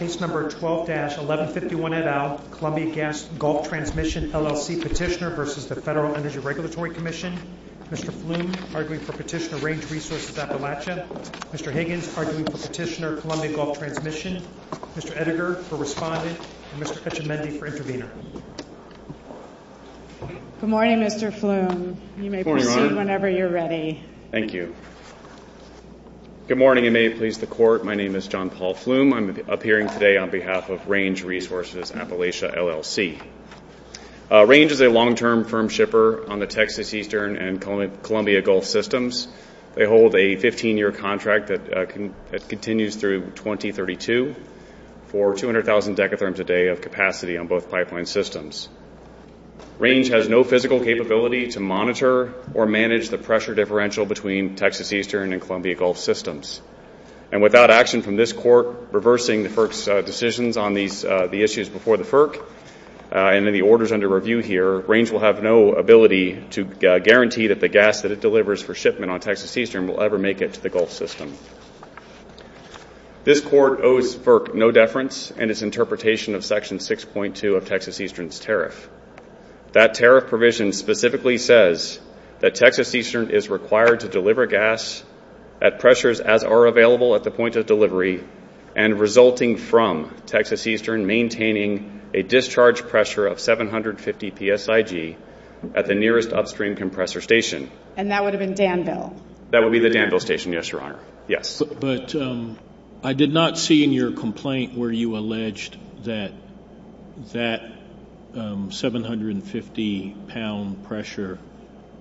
12-1151 et al. Columbia Gas Gulf Transmission, LLC Petitioner v. Federal Energy Regulatory Commission Mr. Floom, arguing for Petitioner Range Resources Appalachia Mr. Higgins, arguing for Petitioner Columbia Gulf Transmission Mr. Edgar, for Respondent Mr. Fetchemendy, for Intervenor Good morning, Mr. Floom. You may proceed whenever you're ready. Thank you. Good morning. You may please record. My name is John Paul Floom. I'm appearing today on behalf of Range Resources Appalachia, LLC. Range is a long-term firm shipper on the Texas Eastern and Columbia Gulf systems. They hold a 15-year contract that continues through 2032 for 200,000 decatherms a day of capacity on both pipeline systems. Range has no physical capability to monitor or manage the pressure differential between Texas Eastern and Columbia Gulf systems. And without action from this court reversing the FERC's decisions on the issues before the FERC, and the orders under review here, Range will have no ability to guarantee that the gas that it delivers for shipment on Texas Eastern will ever make it to the Gulf system. This court owes FERC no deference in its interpretation of Section 6.2 of Texas Eastern's tariff. That tariff provision specifically says that Texas Eastern is required to deliver gas at pressures as are available at the point of delivery and resulting from Texas Eastern maintaining a discharge pressure of 750 psig at the nearest upstream compressor station. And that would have been Danville? That would be the Danville station, yes, Your Honor. But I did not see in your complaint where you alleged that that 750-pound pressure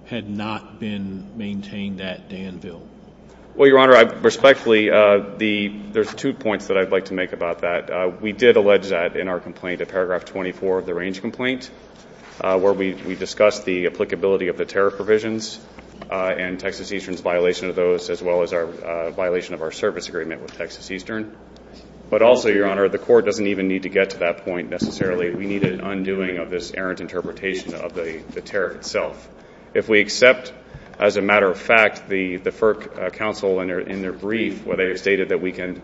had not been maintained at Danville. Well, Your Honor, respectfully, there's two points that I'd like to make about that. We did allege that in our complaint, in paragraph 24 of the Range complaint, where we discussed the applicability of the tariff provisions and Texas Eastern's violation of those, as well as our violation of our service agreement with Texas Eastern. But also, Your Honor, the court doesn't even need to get to that point necessarily. We need an undoing of this errant interpretation of the tariff itself. If we accept, as a matter of fact, the FERC counsel in their brief, where they stated that we can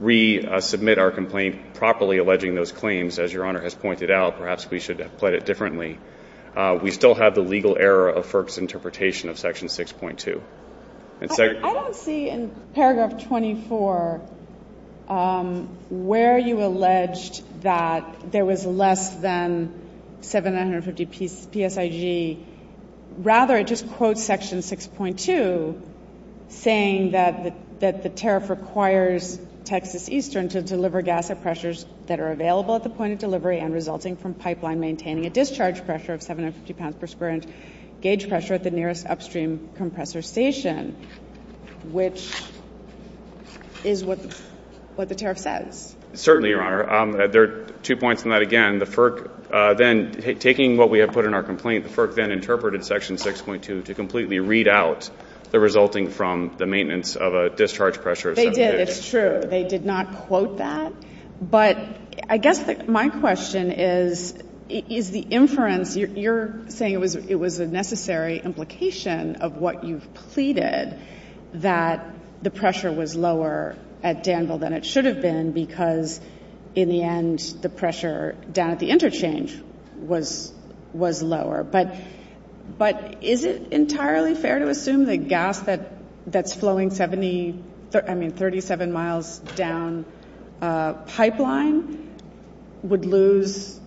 resubmit our complaint properly alleging those claims, as Your Honor has pointed out, perhaps we should have played it differently. We still have the legal error of FERC's interpretation of Section 6.2. I don't see in paragraph 24 where you alleged that there was less than 750 psig. Rather, just quote Section 6.2, saying that the tariff requires Texas Eastern to deliver gas at pressures that are available at the point of delivery and resulting from pipeline maintaining a discharge pressure of 750 psig at the nearest upstream compressor station, which is what the tariff says. Certainly, Your Honor. There are two points on that. Again, the FERC then, taking what we have put in our complaint, the FERC then interpreted Section 6.2 to completely read out the resulting from the maintenance of a discharge pressure. They did. It's true. They did not quote that. But I guess my question is, is the inference, you're saying it was a necessary implication of what you've pleaded, that the pressure was lower at Danville than it should have been because, in the end, the pressure down at the interchange was lower. But is it entirely fair to assume the gas that's flowing 37 miles down pipeline would lose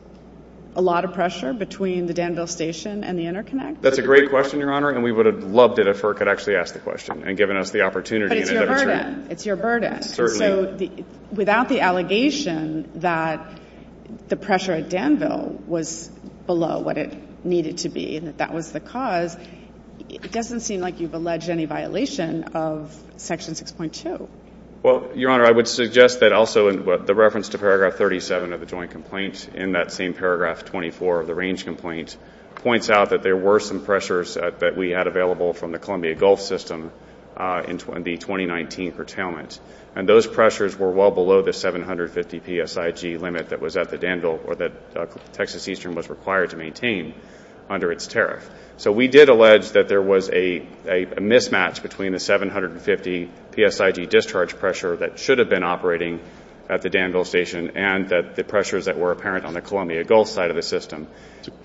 a lot of pressure between the Danville station and the interconnect? That's a great question, Your Honor, and we would have loved it if FERC could actually ask the question and given us the opportunity. But it's your burden. It's your burden. Certainly. So without the allegation that the pressure at Danville was below what it needed to be and that that was the cause, it doesn't seem like you've alleged any violation of Section 6.2. Well, Your Honor, I would suggest that also the reference to Paragraph 37 of the joint complaint in that same Paragraph 24 of the range complaint points out that there were some pressures that we had available from the Columbia Gulf system in the 2019 curtailments, and those pressures were well below the 750 PSIG limit that was at the Danville or that Texas Eastern was required to maintain under its tariff. So we did allege that there was a mismatch between the 750 PSIG discharge pressure that should have been operating at the Danville station and the pressures that were apparent on the Columbia Gulf side of the system.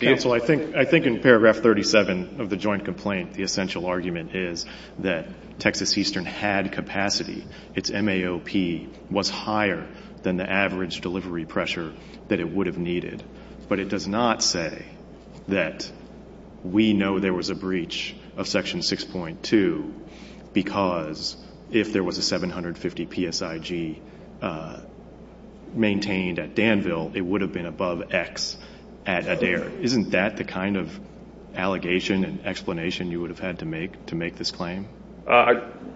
Counsel, I think in Paragraph 37 of the joint complaint the essential argument is that Texas Eastern had capacity. Its MAOP was higher than the average delivery pressure that it would have needed. But it does not say that we know there was a breach of Section 6.2 because if there was a 750 PSIG maintained at Danville, it would have been above X at Adair. Isn't that the kind of allegation and explanation you would have had to make to make this claim?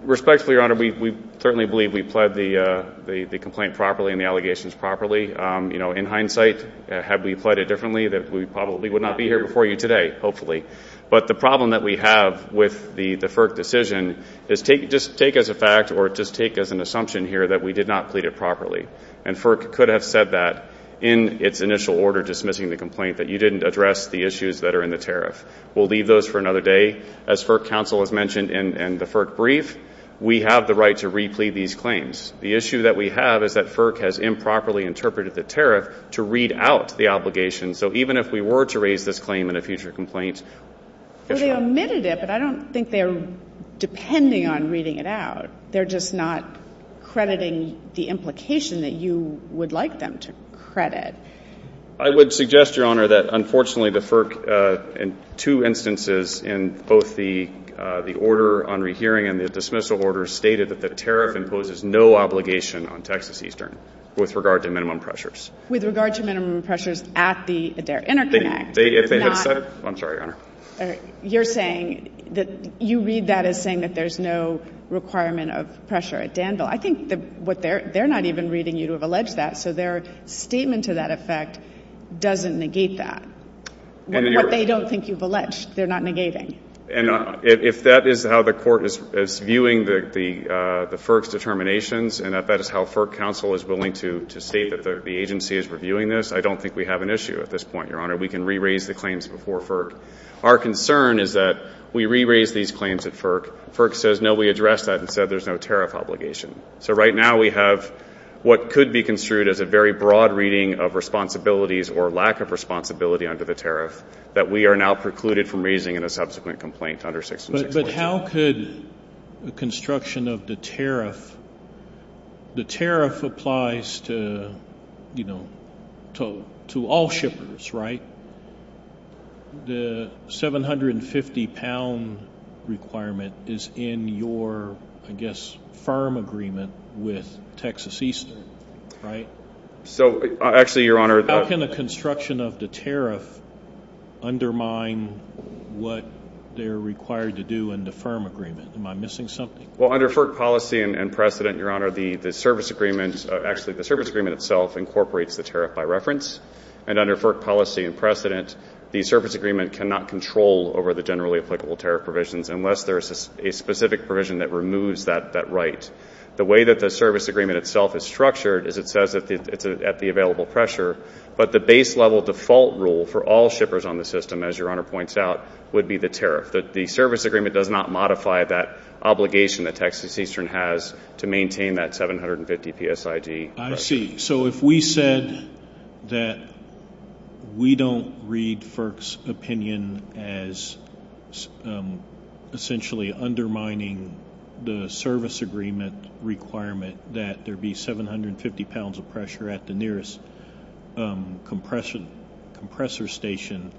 Respectfully, Your Honor, we certainly believe we've pled the complaint properly and the allegations properly. In hindsight, had we pled it differently, we probably would not be here before you today, hopefully. But the problem that we have with the FERC decision is just take as a fact or just take as an assumption here that we did not plead it properly. And FERC could have said that in its initial order dismissing the complaint that you didn't address the issues that are in the tariff. We'll leave those for another day. As FERC counsel has mentioned in the FERC brief, we have the right to replete these claims. The issue that we have is that FERC has improperly interpreted the tariff to read out the obligation. So even if we were to raise this claim in a future complaint, So they omitted it, but I don't think they're depending on reading it out. They're just not crediting the implication that you would like them to credit. I would suggest, Your Honor, that unfortunately the FERC in two instances in both the order on rehearing and the dismissal order stated that the tariff imposes no obligation on Texas Eastern with regard to minimum pressures. With regard to minimum pressures at their interconnect. I'm sorry, Your Honor. You're saying that you read that as saying that there's no requirement of pressure at Danville. I think they're not even reading you to have alleged that, so their statement to that effect doesn't negate that. But they don't think you've alleged. They're not negating. And if that is how the court is viewing the FERC's determinations and if that is how FERC counsel is willing to state that the agency is reviewing this, I don't think we have an issue at this point, Your Honor. We can re-raise the claims before FERC. Our concern is that we re-raise these claims at FERC. FERC says, no, we addressed that and said there's no tariff obligation. So right now we have what could be construed as a very broad reading of responsibilities or lack of responsibility under the tariff that we are now precluded from raising in a subsequent complaint under section 6. But how could the construction of the tariff, the tariff applies to, you know, to all shippers, right? The 750-pound requirement is in your, I guess, firm agreement with Texas Eastern, right? So, actually, Your Honor. How can the construction of the tariff undermine what they're required to do in the firm agreement? Am I missing something? Well, under FERC policy and precedent, Your Honor, the service agreement, actually the service agreement itself incorporates the tariff by reference. And under FERC policy and precedent, the service agreement cannot control over the generally applicable tariff provisions unless there is a specific provision that removes that right. The way that the service agreement itself is structured is it says it's at the available pressure. But the base level default rule for all shippers on the system, as Your Honor points out, would be the tariff. The service agreement does not modify that obligation that Texas Eastern has to maintain that 750 PSID. I see. So if we said that we don't read FERC's opinion as essentially undermining the service agreement requirement that there be 750 pounds of pressure at the nearest compressor station,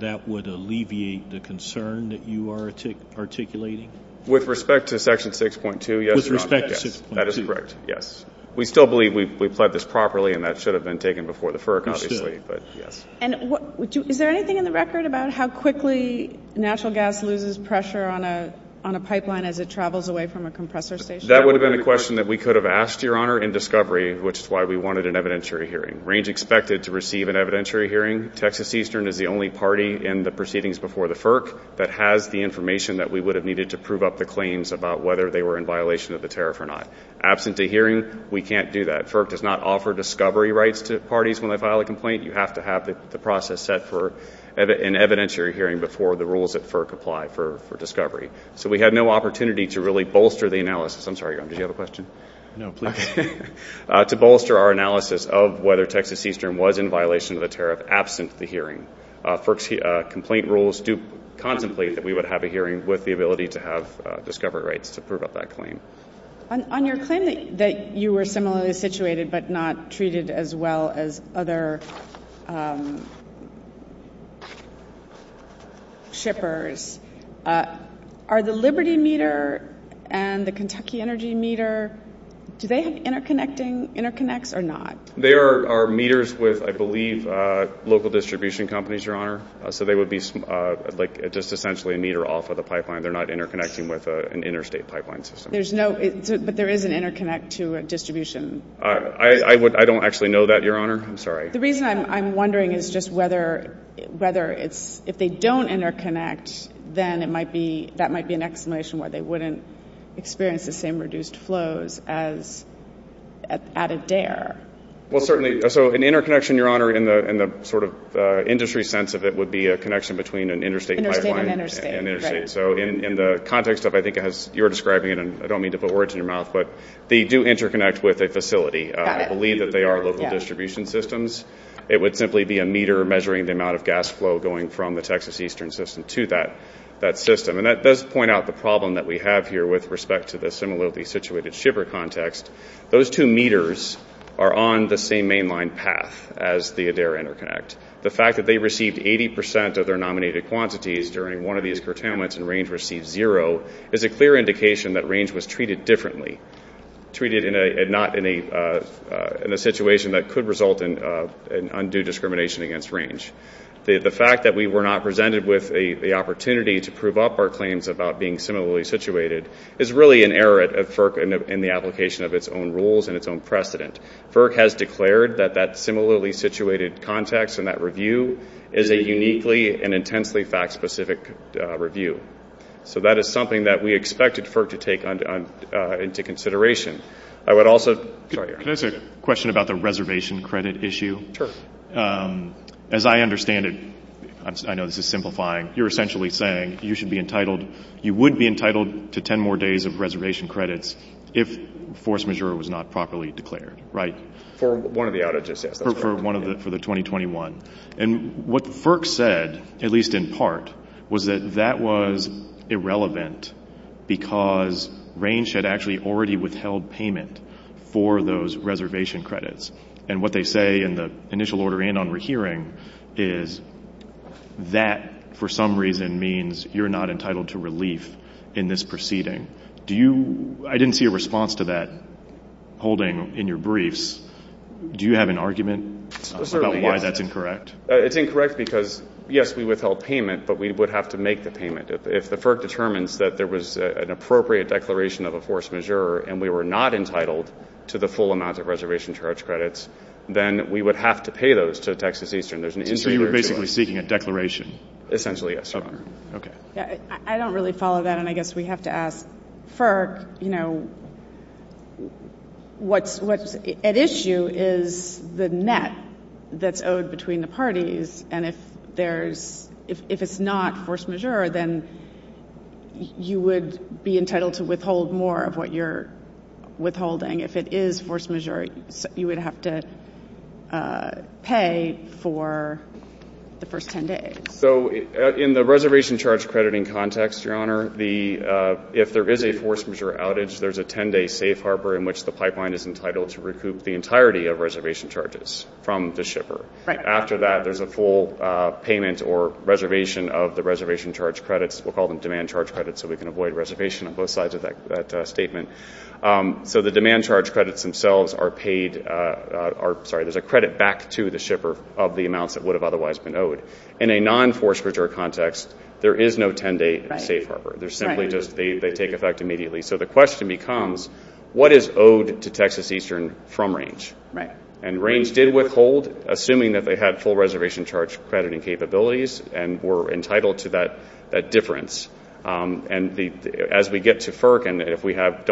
that would alleviate the concern that you are articulating? With respect to Section 6.2, yes, Your Honor. With respect to 6.2? That is correct, yes. We still believe we've pledged this properly, and that should have been taken before the FERC, obviously. Understood. And is there anything in the record about how quickly natural gas loses pressure on a pipeline as it travels away from a compressor station? That would have been a question that we could have asked, Your Honor, in discovery, which is why we wanted an evidentiary hearing. Range expected to receive an evidentiary hearing. Texas Eastern is the only party in the proceedings before the FERC that has the information that we would have needed to prove up the claims about whether they were in violation of the tariff or not. Absent the hearing, we can't do that. FERC does not offer discovery rights to parties when they file a complaint. You have to have the process set for an evidentiary hearing before the rules of FERC apply for discovery. So we had no opportunity to really bolster the analysis. I'm sorry, Your Honor. Did you have a question? No. To bolster our analysis of whether Texas Eastern was in violation of the tariff absent the hearing. FERC's complaint rules do contemplate that we would have a hearing with the ability to have discovery rights to prove up that claim. On your claim that you were similarly situated but not treated as well as other shippers, are the Liberty Meter and the Kentucky Energy Meter, do they interconnect or not? They are meters with, I believe, local distribution companies, Your Honor. So they would be just essentially a meter off of the pipeline. They're not interconnecting with an interstate pipeline system. But there is an interconnect to a distribution. I don't actually know that, Your Honor. I'm sorry. The reason I'm wondering is just whether if they don't interconnect, then that might be an explanation why they wouldn't experience the same reduced flows as out of DARE. Well, certainly. So an interconnection, Your Honor, in the sort of industry sense of it, would be a connection between an interstate pipeline and an interstate. So in the context of, I think, as you're describing it, and I don't mean to put words in your mouth, but they do interconnect with a facility. I believe that they are local distribution systems. It would simply be a meter measuring the amount of gas flow going from the Texas eastern system to that system. And that does point out the problem that we have here with respect to the similarly situated shipper context. Those two meters are on the same mainline path as the DARE interconnect. The fact that they received 80 percent of their nominated quantities during one of these curtailments and range received zero is a clear indication that range was treated differently, treated in a situation that could result in undue discrimination against range. The fact that we were not presented with the opportunity to prove up our claims about being similarly situated is really an error in the application of its own rules and its own precedent. FERC has declared that that similarly situated context and that review is a uniquely and intensely fact-specific review. So that is something that we expected FERC to take into consideration. I would also... Can I ask a question about the reservation credit issue? Sure. As I understand it, I know this is simplifying, you're essentially saying you should be entitled, you would be entitled to 10 more days of reservation credits if force majeure was not properly declared, right? For one of the audits, yes. For one of the, for the 2021. And what FERC said, at least in part, was that that was irrelevant because range had actually already withheld payment for those reservation credits. And what they say in the initial order and on rehearing is that, for some reason, means you're not entitled to relief in this proceeding. Do you... I didn't see a response to that holding in your briefs. Do you have an argument about why that's incorrect? It's incorrect because, yes, we withheld payment, but we would have to make the payment. If the FERC determines that there was an appropriate declaration of a force majeure and we were not entitled to the full amount of reservation charge credits, then we would have to pay those to Texas Eastern. So you were basically seeking a declaration? Essentially, yes. Okay. I don't really follow that, and I guess we have to ask FERC, you know, if it's not force majeure, then you would be entitled to withhold more of what you're withholding. If it is force majeure, you would have to pay for the first 10 days. So in the reservation charge crediting context, Your Honor, if there is a force majeure outage, there's a 10-day safe harbor in which the pipeline is entitled to recoup the entirety of reservation charges from the shipper. Right. After that, there's a full payment or reservation of the reservation charge credits. We'll call them demand charge credits so we can avoid reservation on both sides of that statement. So the demand charge credits themselves are paid or, sorry, there's a credit back to the shipper of the amounts that would have otherwise been owed. In a non-force majeure context, there is no 10-day safe harbor. They simply just take effect immediately. So the question becomes, what is owed to Texas Eastern from Range? Right. And Range did withhold, assuming that they had full reservation charge crediting capabilities and were entitled to that difference. And as we get to FERC and if we have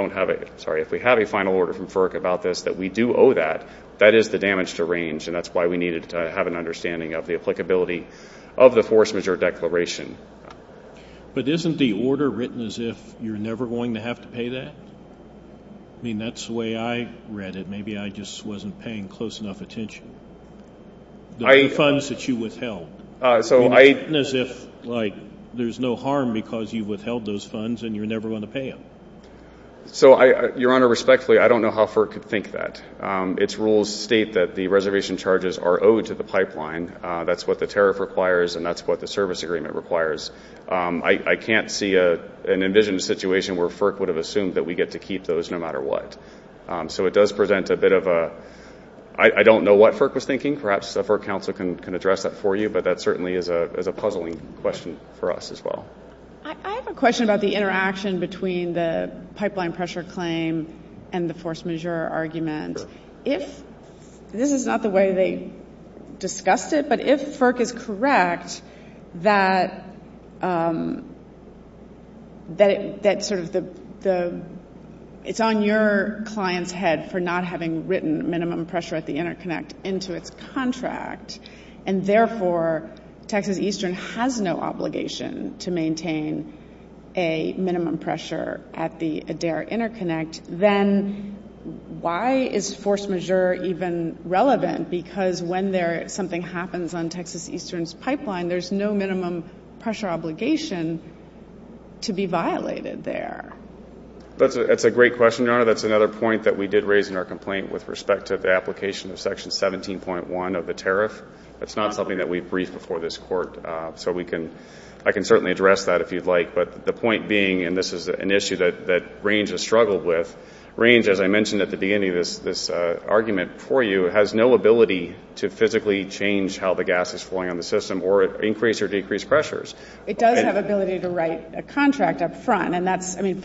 a final order from FERC about this that we do owe that, that is the damage to Range, and that's why we needed to have an understanding of the applicability of the force majeure declaration. But isn't the order written as if you're never going to have to pay that? I mean, that's the way I read it. Maybe I just wasn't paying close enough attention. The funds that you withheld, isn't it written as if, like, there's no harm because you withheld those funds and you're never going to pay them? So, Your Honor, respectfully, I don't know how FERC could think that. Its rules state that the reservation charges are owed to the pipeline. That's what the tariff requires and that's what the service agreement requires. I can't see an envisioned situation where FERC would have assumed that we get to keep those no matter what. So it does present a bit of a, I don't know what FERC was thinking. Perhaps a FERC counsel can address that for you, but that certainly is a puzzling question for us as well. I have a question about the interaction between the pipeline pressure claim and the force majeure argument. This is not the way they discussed it, but if FERC is correct that it's on your client's head for not having written minimum pressure at the interconnect into its contract, and therefore Texas Eastern has no obligation to maintain a minimum pressure at the Adair interconnect, then why is force majeure even relevant? Because when something happens on Texas Eastern's pipeline, there's no minimum pressure obligation to be violated there. That's a great question, Your Honor. That's another point that we did raise in our complaint with respect to the application of Section 17.1 of the tariff. That's not something that we've briefed before this Court, so I can certainly address that if you'd like. But the point being, and this is an issue that Range has struggled with, Range, as I mentioned at the beginning of this argument for you, has no ability to physically change how the gas is flowing on the system or increase or decrease pressures. It does have ability to write a contract up front. And that's, I mean,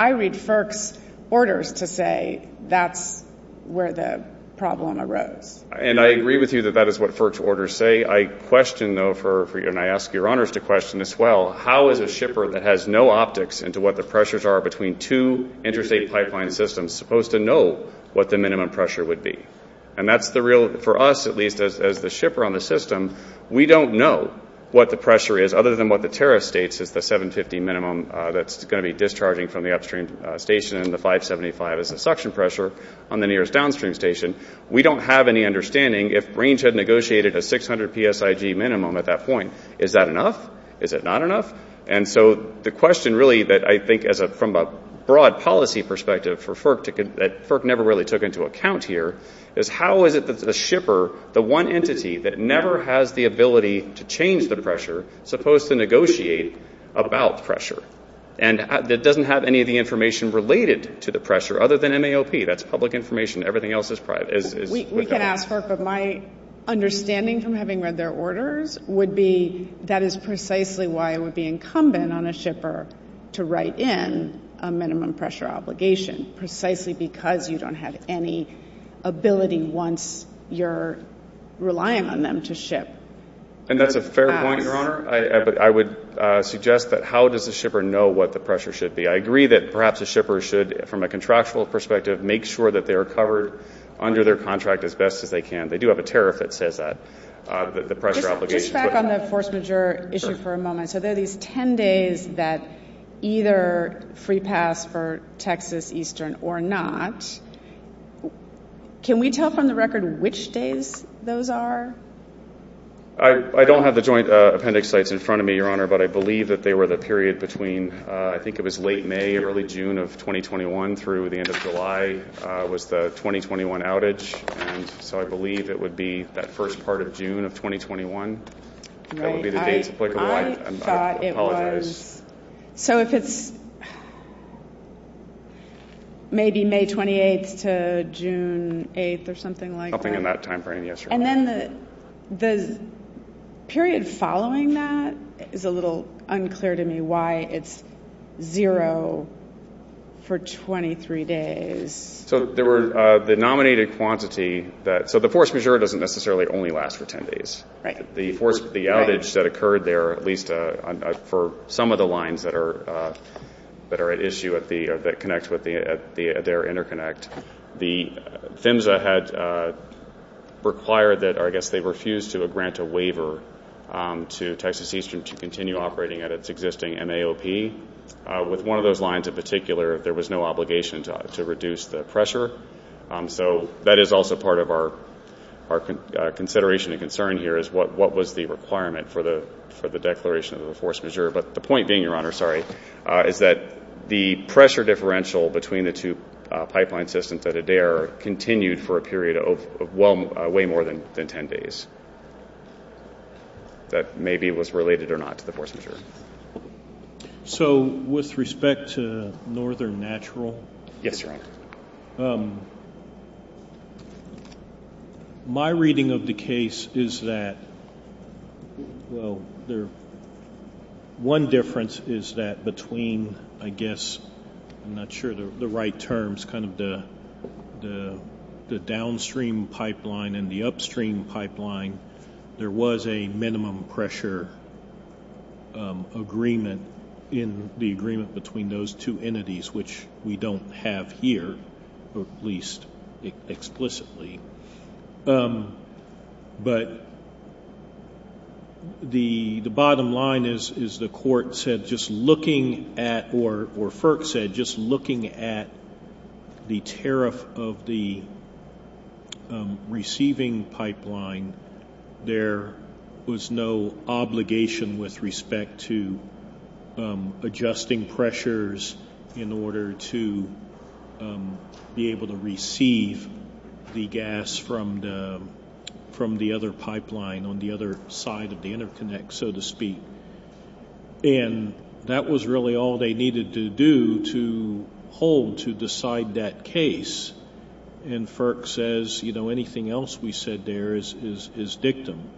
I read FERC's orders to say that's where the problem arose. And I agree with you that that is what FERC's orders say. I question, though, and I ask Your Honors to question as well, how is a shipper that has no optics into what the pressures are between two interstate pipeline systems supposed to know what the minimum pressure would be? And that's the real, for us at least, as the shipper on the system, we don't know what the pressure is other than what the tariff states at the 750 minimum that's going to be discharging from the upstream station and the 575 is the suction pressure on the nearest downstream station. We don't have any understanding if Range had negotiated a 600 PSIG minimum at that point. Is that enough? Is it not enough? And so the question, really, that I think from a broad policy perspective, that FERC never really took into account here is how is it that the shipper, the one entity that never has the ability to change the pressure, supposed to negotiate about pressure and that doesn't have any of the information related to the pressure other than an AOP. That's public information. Everything else is private. We can ask her, but my understanding from having read their orders would be that is precisely why it would be incumbent on a shipper to write in a minimum pressure obligation, precisely because you don't have any ability once you're relying on them to ship. And that's a fair point, Your Honor. I would suggest that how does the shipper know what the pressure should be? I agree that perhaps a shipper should, from a contractual perspective, make sure that they're covered under their contract as best as they can. They do have a tariff that says that, the pressure obligation. Just back on the force majeure issue for a moment. Sure. So there are these 10 days that either free pass for Texas Eastern or not. Can we tell from the record which days those are? I don't know, Your Honor, but I believe that they were the period between, I think it was late May, early June of 2021 through the end of July was the 2021 outage. So I believe it would be that first part of June of 2021. I thought it was, so if it's maybe May 28th to June 8th or something like that. And then the period following that is a little unclear to me why it's zero for 23 days. So the nominated quantity, so the force majeure doesn't necessarily only last for 10 days. The outage that occurred there, at least for some of the lines that are at issue that connects with their interconnect, the PHMSA had required that, I guess, they refused to grant a waiver to Texas Eastern to continue operating at its existing MAOP. With one of those lines in particular, there was no obligation to reduce the pressure. So that is also part of our consideration and concern here, is what was the requirement for the declaration of the force majeure. But the point being, Your Honor, sorry, is that the pressure differential between the two pipeline systems at Adair continued for a period of way more than 10 days. That maybe was related or not to the force majeure. So with respect to Northern Natural. Yes, Your Honor. My reading of the case is that one difference is that between, I guess, I'm not sure the right terms, kind of the downstream pipeline and the upstream pipeline, there was a minimum pressure agreement in the agreement between those two entities, which we don't have here, at least explicitly. But the bottom line is the court said just looking at, or FERC said, just looking at the tariff of the receiving pipeline, there was no obligation with respect to adjusting pressures in order to be able to receive the gas from the other pipeline on the other side of the interconnect, so to speak. And that was really all they needed to do to hold, to decide that case. And FERC says, you know, anything else we said there is victim.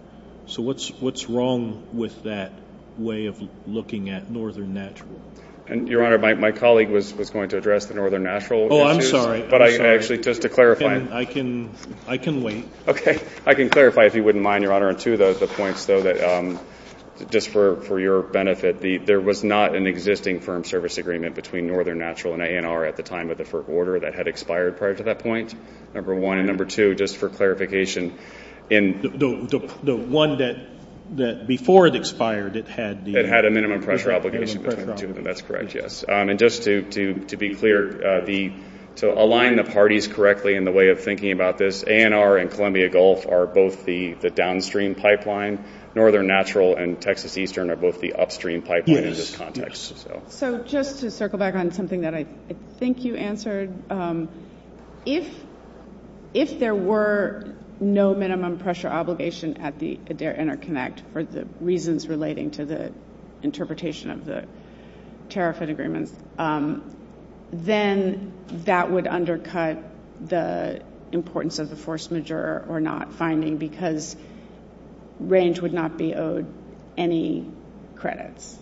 So what's wrong with that way of looking at Northern Natural? Your Honor, my colleague was going to address the Northern Natural issue. Oh, I'm sorry. But actually, just to clarify. I can wait. Okay. I can clarify if you wouldn't mind, Your Honor, on two of those points, though, that just for your benefit, there was not an existing firm service agreement between Northern Natural and ANR at the time of the FERC order that had expired prior to that point, number one. Number two, just for clarification. The one that before it expired, it had the minimum pressure obligation. That's correct, yes. And just to be clear, to align the parties correctly in the way of thinking about this, ANR and Columbia Gulf are both the downstream pipeline. Northern Natural and Texas Eastern are both the upstream pipeline in this context. So just to circle back on something that I think you answered, if there were no minimum pressure obligation at their interconnect for the reasons relating to the interpretation of the tariff and agreement, then that would undercut the importance of the force majeure or not finding because range would not be owed any credits.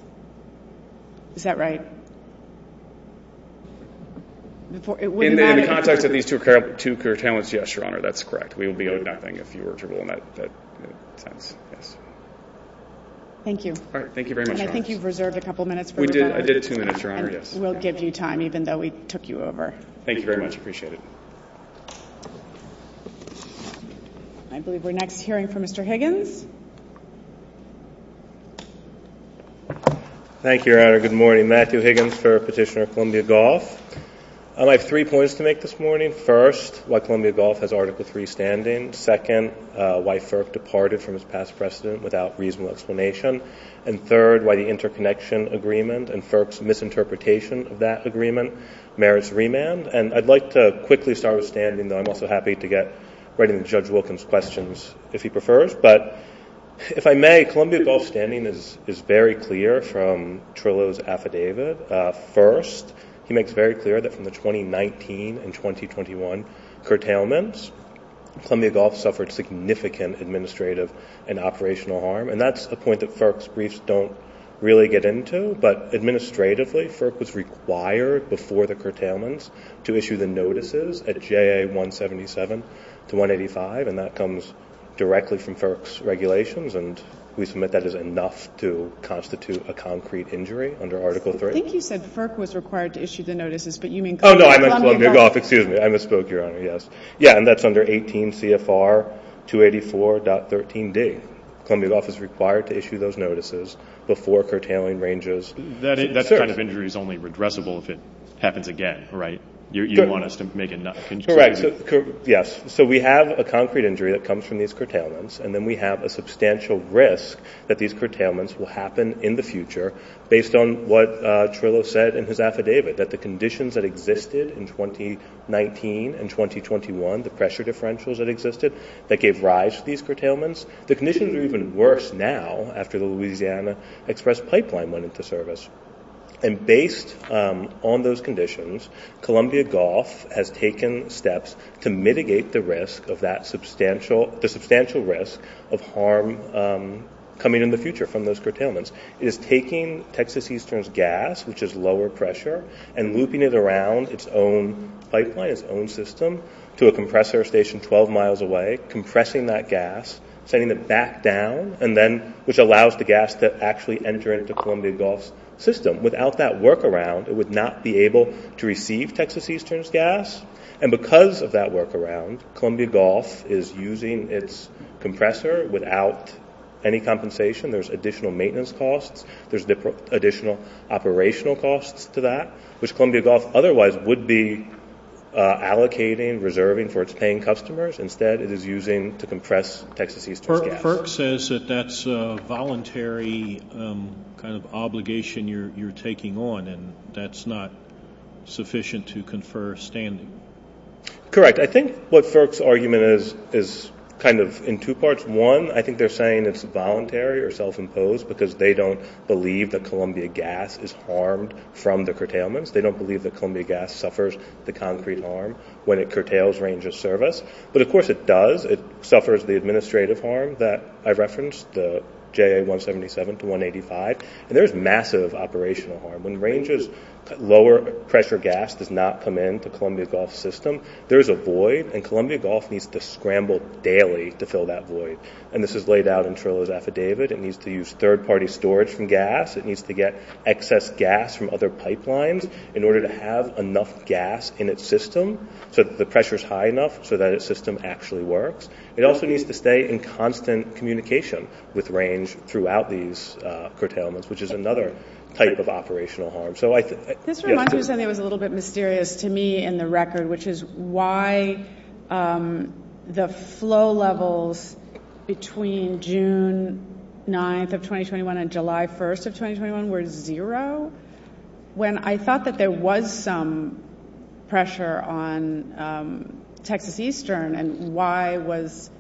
Is that right? In the context of these two curtailments, yes, Your Honor. That's correct. We would be owed nothing if you were to rule them out. Thank you. All right. Thank you very much, Your Honor. And I think you've reserved a couple minutes. We did. I did two minutes, Your Honor. We'll give you time even though we took you over. Thank you very much. We appreciate it. I believe we're next hearing from Mr. Higgins. Thank you, Your Honor. Good morning. Matthew Higgins for Petitioner of Columbia Gulf. I have three points to make this morning. First, why Columbia Gulf has Article III standing. Second, why FERC departed from its past precedent without reasonable explanation. And third, why the interconnection agreement and FERC's misinterpretation of that agreement merits remand. And I'd like to quickly start with standing. I'm also happy to get right into Judge Wilkins' questions if he prefers. But if I may, Columbia Gulf's standing is very clear from Trillo's affidavit. First, he makes very clear that from the 2019 and 2021 curtailments, Columbia Gulf suffered significant administrative and operational harm. And that's a point that FERC's briefs don't really get into. But administratively, FERC was required before the curtailments to issue the notices at J.A. 177 to 185, and that comes directly from FERC's regulations. And we submit that is enough to constitute a concrete injury under Article III. I think you said FERC was required to issue the notices, but you mean Columbia Gulf. Oh, no, Columbia Gulf. Excuse me. I misspoke, Your Honor. Yes. Yeah, and that's under 18 CFR 284.13d. Columbia Gulf is required to issue those notices before curtailing ranges. That kind of injury is only redressable if it happens again, right? You want us to make it not concluded. Correct. Yes. So we have a concrete injury that comes from these curtailments, and then we have a substantial risk that these curtailments will happen in the future based on what Trillo said in his affidavit, that the conditions that existed in 2019 and 2021, the pressure differentials that existed, that gave rise to these curtailments. The conditions are even worse now after the Louisiana Express Pipeline went into service. And based on those conditions, Columbia Gulf has taken steps to mitigate the risk of that substantial risk of harm coming in the future from those curtailments. It is taking Texas Eastern's gas, which is lower pressure, and looping it around its own pipeline, its own system, to a compressor station 12 miles away, compressing that gas, sending it back down, and then which allows the gas to actually enter into Columbia Gulf's system. Without that workaround, it would not be able to receive Texas Eastern's gas. And because of that workaround, Columbia Gulf is using its compressor without any compensation. There's additional maintenance costs. There's additional operational costs to that, which Columbia Gulf otherwise would be allocating, reserving for its paying customers. Instead, it is using to compress Texas Eastern's gas. FERC says that that's a voluntary obligation you're taking on, and that's not sufficient to confer standing. Correct. I think what FERC's argument is kind of in two parts. One, I think they're saying it's voluntary or self-imposed because they don't believe that Columbia gas is harmed from the curtailments. They don't believe that Columbia gas suffers the concrete harm when it curtails ranges service. But, of course, it does. It suffers the administrative harm that I referenced, the JA-177 to 185. And there's massive operational harm. When ranges lower pressure gas does not come in to Columbia Gulf's system, there is a void, and Columbia Gulf needs to scramble daily to fill that void. And this is laid out in Trillo's affidavit. It needs to use third-party storage from gas. It needs to get excess gas from other pipelines in order to have enough gas in its system so that the pressure is high enough so that its system actually works. It also needs to stay in constant communication with range throughout these curtailments, which is another type of operational harm. This reminds me of something that was a little bit mysterious to me in the record, which is why the flow levels between June 9th of 2021 and July 1st of 2021 were zero, when I thought that there was some pressure on Texas Eastern, and why was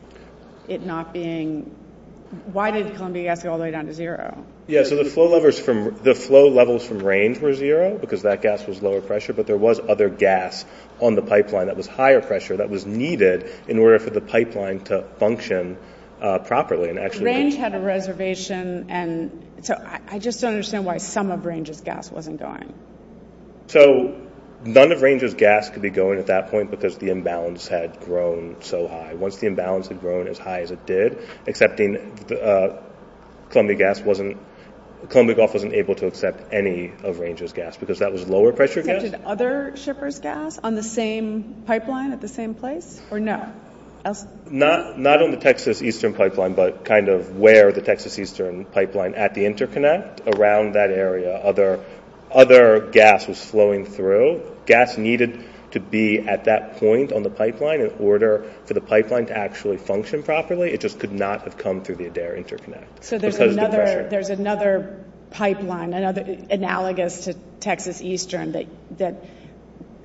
it not being – why did Columbia gas go all the way down to zero? Yeah, so the flow levels from range were zero because that gas was lower pressure, but there was other gas on the pipeline that was higher pressure that was needed in order for the pipeline to function properly and actually – Range had a reservation, and so I just don't understand why some of range's gas wasn't going. So none of range's gas could be going at that point because the imbalance had grown so high. Once the imbalance had grown as high as it did, accepting Columbia gas wasn't – Columbia Gulf wasn't able to accept any of range's gas because that was lower pressure gas. Did other shippers gas on the same pipeline at the same place, or no? Not on the Texas Eastern pipeline, but kind of where the Texas Eastern pipeline at the interconnect around that area. Other gas was flowing through. So gas needed to be at that point on the pipeline in order for the pipeline to actually function properly. It just could not have come through the Adair interconnect because of the pressure. So there's another pipeline, analogous to Texas Eastern, that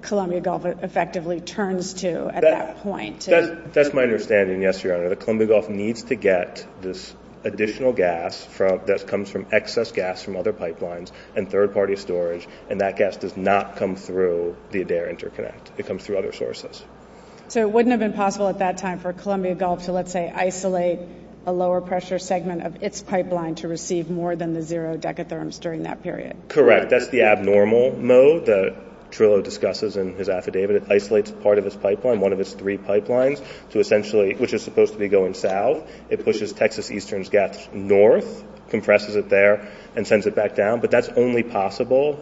Columbia Gulf effectively turns to at that point. That's my understanding, yes, Your Honor. The Columbia Gulf needs to get this additional gas that comes from excess gas from other pipelines and third-party storage, and that gas does not come through the Adair interconnect. It comes through other sources. So it wouldn't have been possible at that time for Columbia Gulf to, let's say, isolate a lower-pressure segment of its pipeline to receive more than the zero decatherms during that period? Correct. That's the abnormal mode that Trillo discusses in his affidavit. It isolates part of its pipeline, one of its three pipelines, to essentially – which is supposed to be going south. It pushes Texas Eastern's gas north, compresses it there, and sends it back down. But that's only possible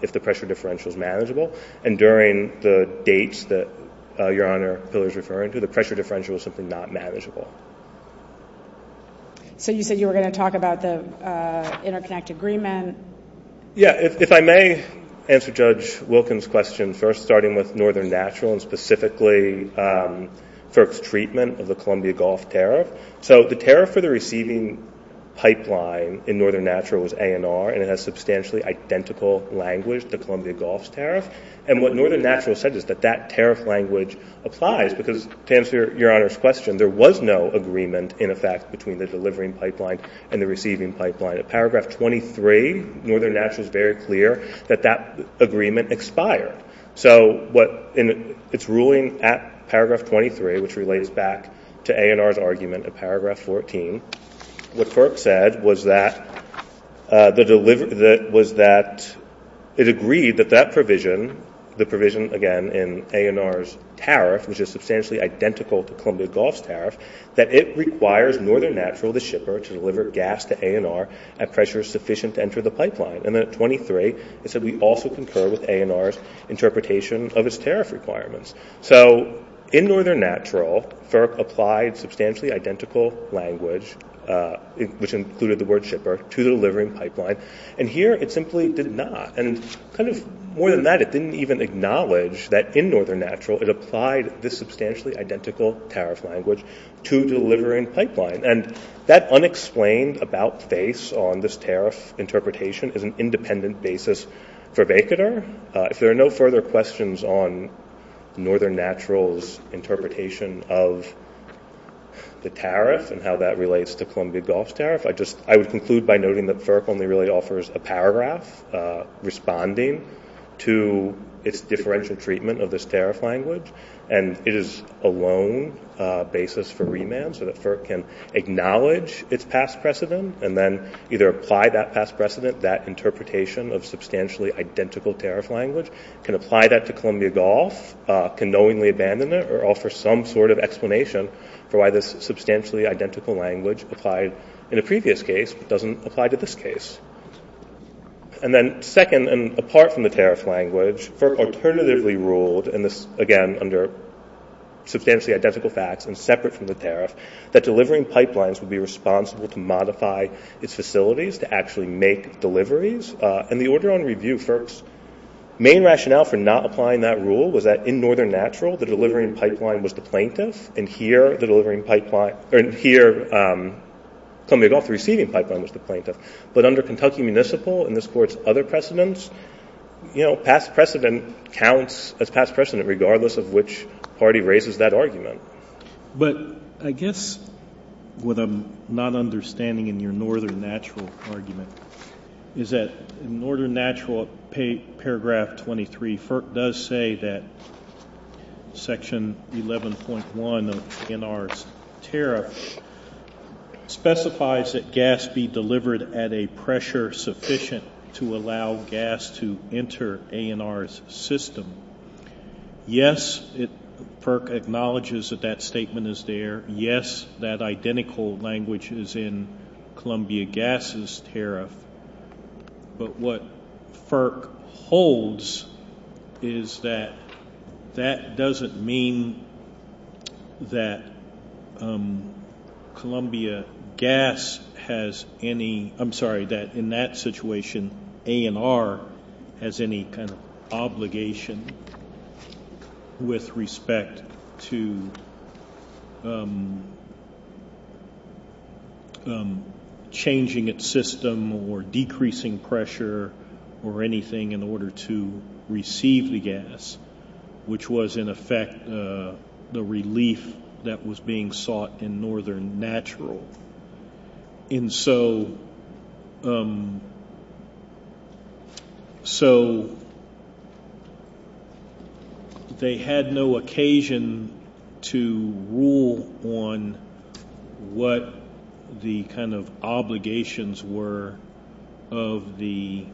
if the pressure differential is manageable. And during the dates that Your Honor Pillar is referring to, the pressure differential is simply not manageable. So you said you were going to talk about the interconnect agreement. Yes. If I may answer Judge Wilkins' question first, starting with Northern Natural and specifically FERC's treatment of the Columbia Gulf tariff. So the tariff for the receiving pipeline in Northern Natural was ANR, and it has substantially identical language to Columbia Gulf's tariff. And what Northern Natural says is that that tariff language applies because, to answer Your Honor's question, there was no agreement, in effect, between the delivering pipeline and the receiving pipeline. At paragraph 23, Northern Natural is very clear that that agreement expired. So in its ruling at paragraph 23, which relates back to ANR's argument at paragraph 14, what FERC said was that it agreed that that provision, the provision, again, in ANR's tariff, which is substantially identical to Columbia Gulf's tariff, that it requires Northern Natural, the shipper, to deliver gas to ANR at pressure sufficient to enter the pipeline. And then at 23, it said we also concur with ANR's interpretation of its tariff requirements. So in Northern Natural, FERC applied substantially identical language, which included the word shipper, to the delivering pipeline. And here it simply did not. And kind of more than that, it didn't even acknowledge that in Northern Natural it applied this substantially identical tariff language to the delivering pipeline. And that unexplained about-face on this tariff interpretation is an independent basis for Baikonur. If there are no further questions on Northern Natural's interpretation of the tariff and how that relates to Columbia Gulf's tariff, I would conclude by noting that FERC only really offers a paragraph responding to its differential treatment of this tariff language. And it is a lone basis for remand so that FERC can acknowledge its past precedent and then either apply that past precedent, that interpretation of substantially identical tariff language, can apply that to Columbia Gulf, can knowingly abandon it, or offer some sort of explanation for why this substantially identical language applied in a previous case but doesn't apply to this case. And then second, and apart from the tariff language, FERC alternatively ruled, and this, again, under substantially identical facts and separate from the tariff, that delivering pipelines would be responsible to modify its facilities to actually make deliveries. And the order on review, FERC's main rationale for not applying that rule was that in Northern Natural the delivering pipeline was the plaintiff and here the delivering pipeline- and here Columbia Gulf receiving pipeline was the plaintiff. But under Kentucky Municipal and this Court's other precedents, you know, past precedent counts as past precedent regardless of which party raises that argument. But I guess what I'm not understanding in your Northern Natural argument is that Northern Natural paragraph 23 does say that section 11.1 in our tariff specifies that gas be delivered at a pressure sufficient to allow gas to enter ANR's system. Yes, FERC acknowledges that that statement is there. Yes, that identical language is in Columbia Gas's tariff. But what FERC holds is that that doesn't mean that Columbia Gas has any- I'm sorry, that in that situation ANR has any kind of obligation with respect to changing its system or decreasing pressure or anything in order to receive the gas, which was in effect the relief that was being sought in Northern Natural. And so they had no occasion to rule on what the kind of obligations were of the-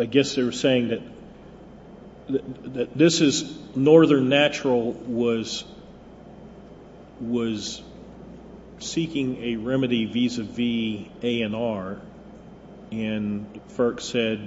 I guess they're saying that this is- Northern Natural was seeking a remedy vis-a-vis ANR and FERC said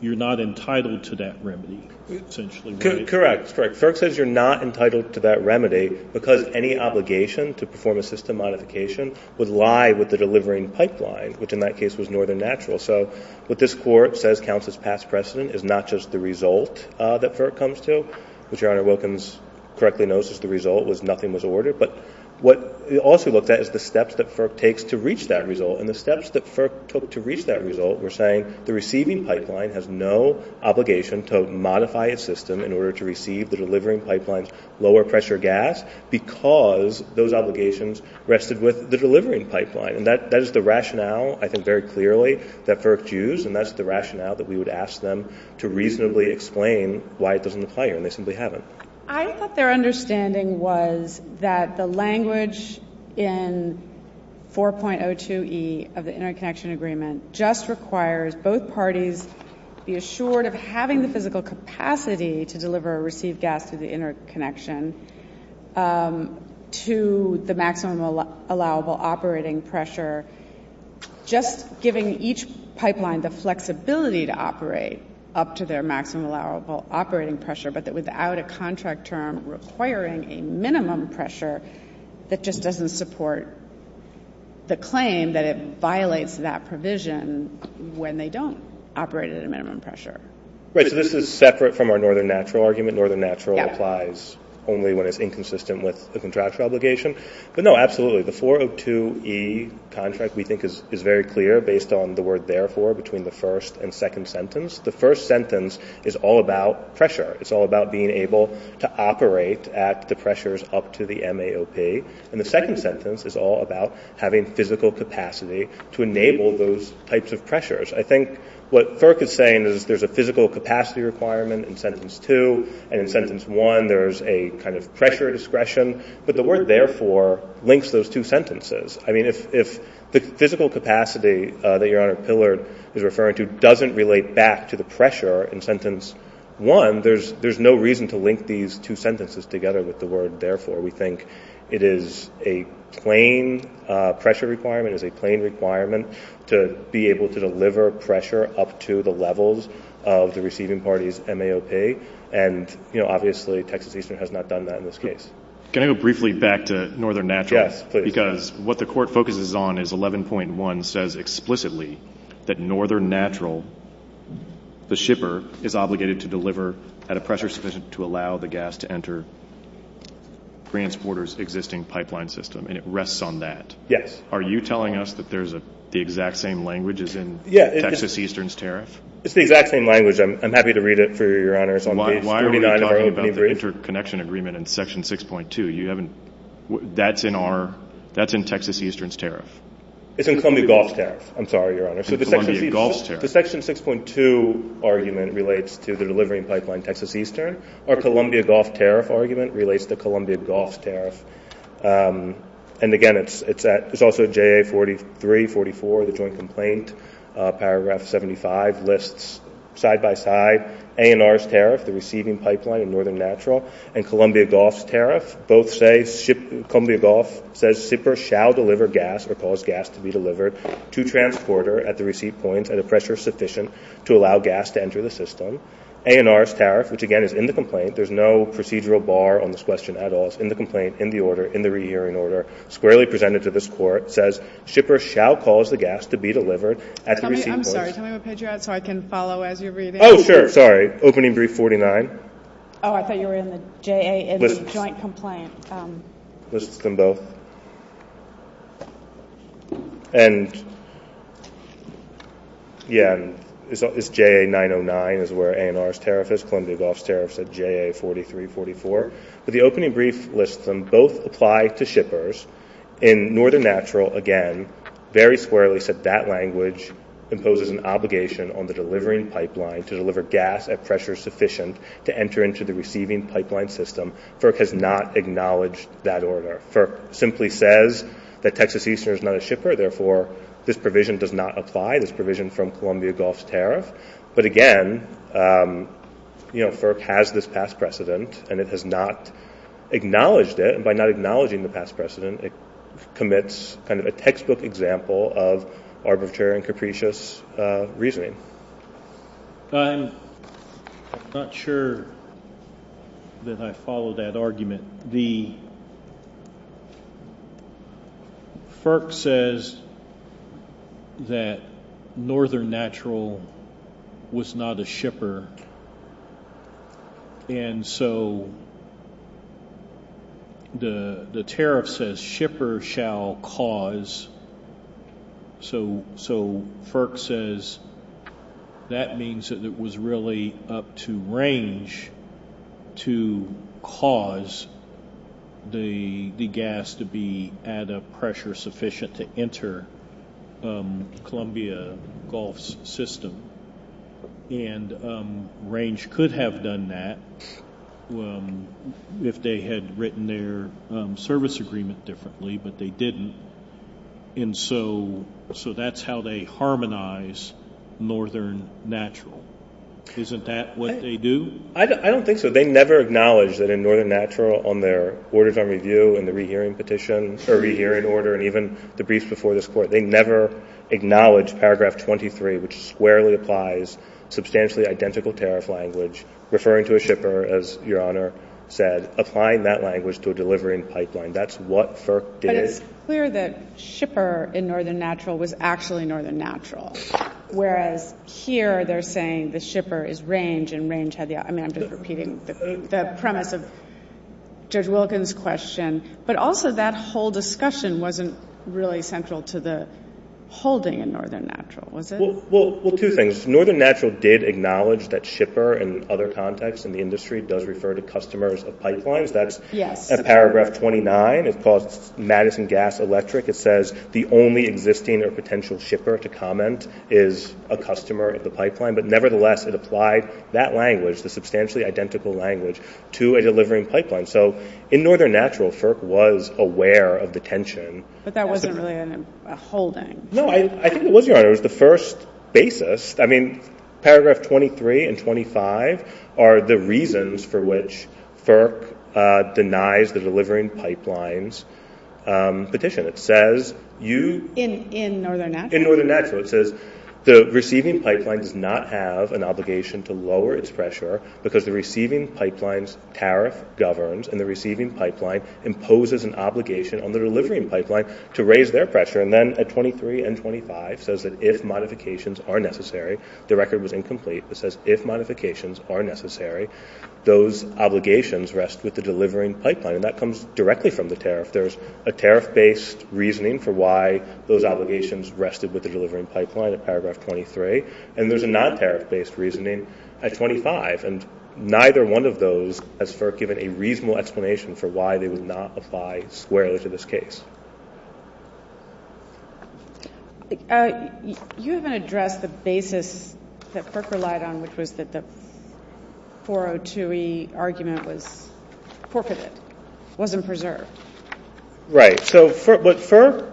you're not entitled to that remedy, essentially. Correct. FERC says you're not entitled to that remedy because any obligation to perform a system modification would lie with the delivering pipeline, which in that case was Northern Natural. So what this Court says counts as past precedent is not just the result that FERC comes to, which Your Honor Wilkins correctly knows is the result was nothing was ordered. But what it also looked at is the steps that FERC takes to reach that result. And the steps that FERC took to reach that result were saying the receiving pipeline has no obligation to modify a system in order to receive the delivering pipeline's lower pressure gas because those obligations rested with the delivering pipeline. And that is the rationale I think very clearly that FERC used, and that's the rationale that we would ask them to reasonably explain why it doesn't apply, and they simply haven't. I thought their understanding was that the language in 4.02e of the interconnection agreement just requires both parties to be assured of having the physical capacity to deliver or receive gas through the interconnection to the maximum allowable operating pressure, just giving each pipeline the flexibility to operate up to their maximum allowable operating pressure but that without a contract term requiring a minimum pressure, it just doesn't support the claim that it violates that provision when they don't operate at a minimum pressure. Right. So this is separate from our Northern Natural argument. Northern Natural applies only when it's inconsistent with the contractual obligation. But no, absolutely. The 4.02e contract we think is very clear based on the word therefore between the first and second sentence. The first sentence is all about pressure. It's all about being able to operate at the pressures up to the MAOP. And the second sentence is all about having physical capacity to enable those types of pressures. I think what FERC is saying is there's a physical capacity requirement in sentence 2, and in sentence 1 there's a kind of pressure discretion, but the word therefore links those two sentences. I mean, if the physical capacity that Your Honor Pillard is referring to doesn't relate back to the pressure in sentence 1, there's no reason to link these two sentences together with the word therefore. We think it is a plain pressure requirement, it is a plain requirement to be able to deliver pressure up to the levels of the receiving party's MAOP. And, you know, obviously Texas Eastern has not done that in this case. Can I go briefly back to Northern Natural? Yes, please. Because what the Court focuses on is 11.1 says explicitly that Northern Natural, the shipper, is obligated to deliver at a pressure sufficient to allow the gas to enter transporter's existing pipeline system, and it rests on that. Yes. Are you telling us that there's the exact same language as in Texas Eastern's tariff? It's the exact same language. I'm happy to read it for you, Your Honor. Why are we talking about the interconnection agreement in section 6.2? That's in Texas Eastern's tariff. It's in Columbia Gulf's tariff. I'm sorry, Your Honor. In Columbia Gulf's tariff. The section 6.2 argument relates to the delivering pipeline Texas Eastern. Our Columbia Gulf tariff argument relates to Columbia Gulf's tariff. And, again, it's also JA 4344, the joint complaint, paragraph 75, lists side by side ANR's tariff, the receiving pipeline in Northern Natural, and Columbia Gulf's tariff. Both say Columbia Gulf says shippers shall deliver gas or cause gas to be delivered to transporter at the receipt point at a pressure sufficient to allow gas to enter the system. ANR's tariff, which, again, is in the complaint. There's no procedural bar on this question at all. It's in the complaint, in the order, in the rehearing order, squarely presented to this court, says shippers shall cause the gas to be delivered at the receipt point. I'm sorry. Can I have a picture so I can follow as you're reading? Oh, sure. Sorry. Okay. Opening brief 49. Oh, I thought you were in the JA and the joint complaint. Lists them both. And, yeah, it's JA 909 is where ANR's tariff is. Columbia Gulf's tariff said JA 4344. But the opening brief lists them both apply to shippers in Northern Natural, again, very squarely said that language imposes an obligation on the delivering pipeline to deliver gas at pressure sufficient to enter into the receiving pipeline system. FERC has not acknowledged that order. FERC simply says that Texas Eastern is not a shipper. Therefore, this provision does not apply, this provision from Columbia Gulf's tariff. But, again, you know, FERC has this past precedent, and it has not acknowledged it. And by not acknowledging the past precedent, it commits kind of a textbook example of arbitrary and capricious reasoning. I'm not sure that I follow that argument. The FERC says that Northern Natural was not a shipper. And so the tariff says shipper shall cause. So FERC says that means that it was really up to range to cause the gas to be at a pressure sufficient to enter Columbia Gulf's system. And range could have done that if they had written their service agreement differently, but they didn't. And so that's how they harmonize Northern Natural. Isn't that what they do? I don't think so. They never acknowledge that in Northern Natural on their orders on review and the rehearing petition, the rehearing order, and even the briefs before this Court, they never acknowledge paragraph 23, which squarely applies substantially identical tariff language, referring to a shipper, as Your Honor said, applying that language to a delivery and pipeline. That's what FERC did. But it's clear that shipper in Northern Natural was actually Northern Natural, whereas here they're saying the shipper is range, and range had the, I mean, I'm just repeating the premise of Judge Wilkins' question. But also that whole discussion wasn't really central to the holding in Northern Natural, was it? Well, two things. Northern Natural did acknowledge that shipper in other contexts in the industry does refer to customers of pipelines. That's in paragraph 29. It calls Madison Gas Electric. It says the only existing or potential shipper to comment is a customer at the pipeline. But nevertheless, it applied that language, the substantially identical language, to a delivery and pipeline. So in Northern Natural, FERC was aware of the tension. But that wasn't really a holding. No, I think it was, Your Honor, the first basis. I mean, paragraph 23 and 25 are the reasons for which FERC denies the delivering pipelines petition. It says you – In Northern Natural? In Northern Natural. It says the receiving pipeline does not have an obligation to lower its pressure because the receiving pipeline's tariff governs, and the receiving pipeline imposes an obligation on the delivering pipeline to raise their pressure. And then at 23 and 25, it says that if modifications are necessary, the record was incomplete. It says if modifications are necessary, those obligations rest with the delivering pipeline. And that comes directly from the tariff. There's a tariff-based reasoning for why those obligations rested with the delivering pipeline in paragraph 23. And there's a non-tariff-based reasoning at 25. And neither one of those has FERC given a reasonable explanation for why they would not apply squarely to this case. You haven't addressed the basis that FERC relied on, which was that the 402e argument was forfeited, wasn't preserved. Right. So, but FERC,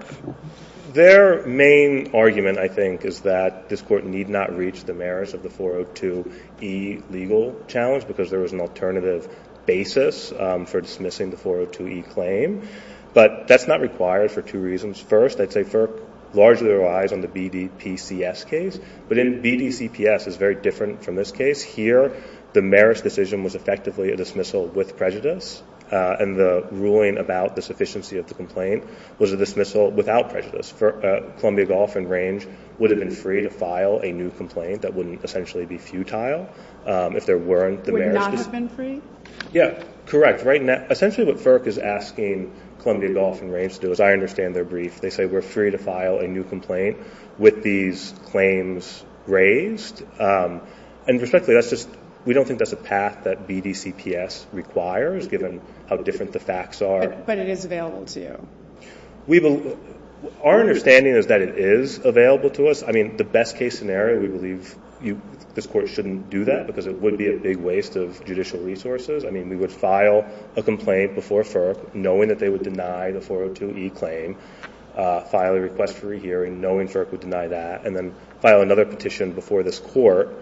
their main argument, I think, is that this Court need not reach the merits of the 402e legal challenge because there was an alternative basis for dismissing the 402e claim. But that's not required for two reasons. First, I'd say FERC largely relies on the BDCPS case. But BDCPS is very different from this case. Here, the merits decision was effectively a dismissal with prejudice, and the ruling about the sufficiency of the complaint was a dismissal without prejudice. Columbia Gulf and Range would have been free to file a new complaint that wouldn't essentially be futile if there weren't the merits. Would not have been free? Yeah. Correct. Right. Essentially what FERC is asking Columbia Gulf and Range to do, as I understand their brief, they say we're free to file a new complaint with these claims raised. And respectfully, we don't think that's a path that BDCPS requires, given how different the facts are. But it is available to you. Our understanding is that it is available to us. I mean, the best case scenario, we believe this Court shouldn't do that because it would be a big waste of judicial resources. I mean, we would file a complaint before FERC, knowing that they would deny the 402e claim, file a request for a hearing, knowing FERC would deny that, and then file another petition before this Court,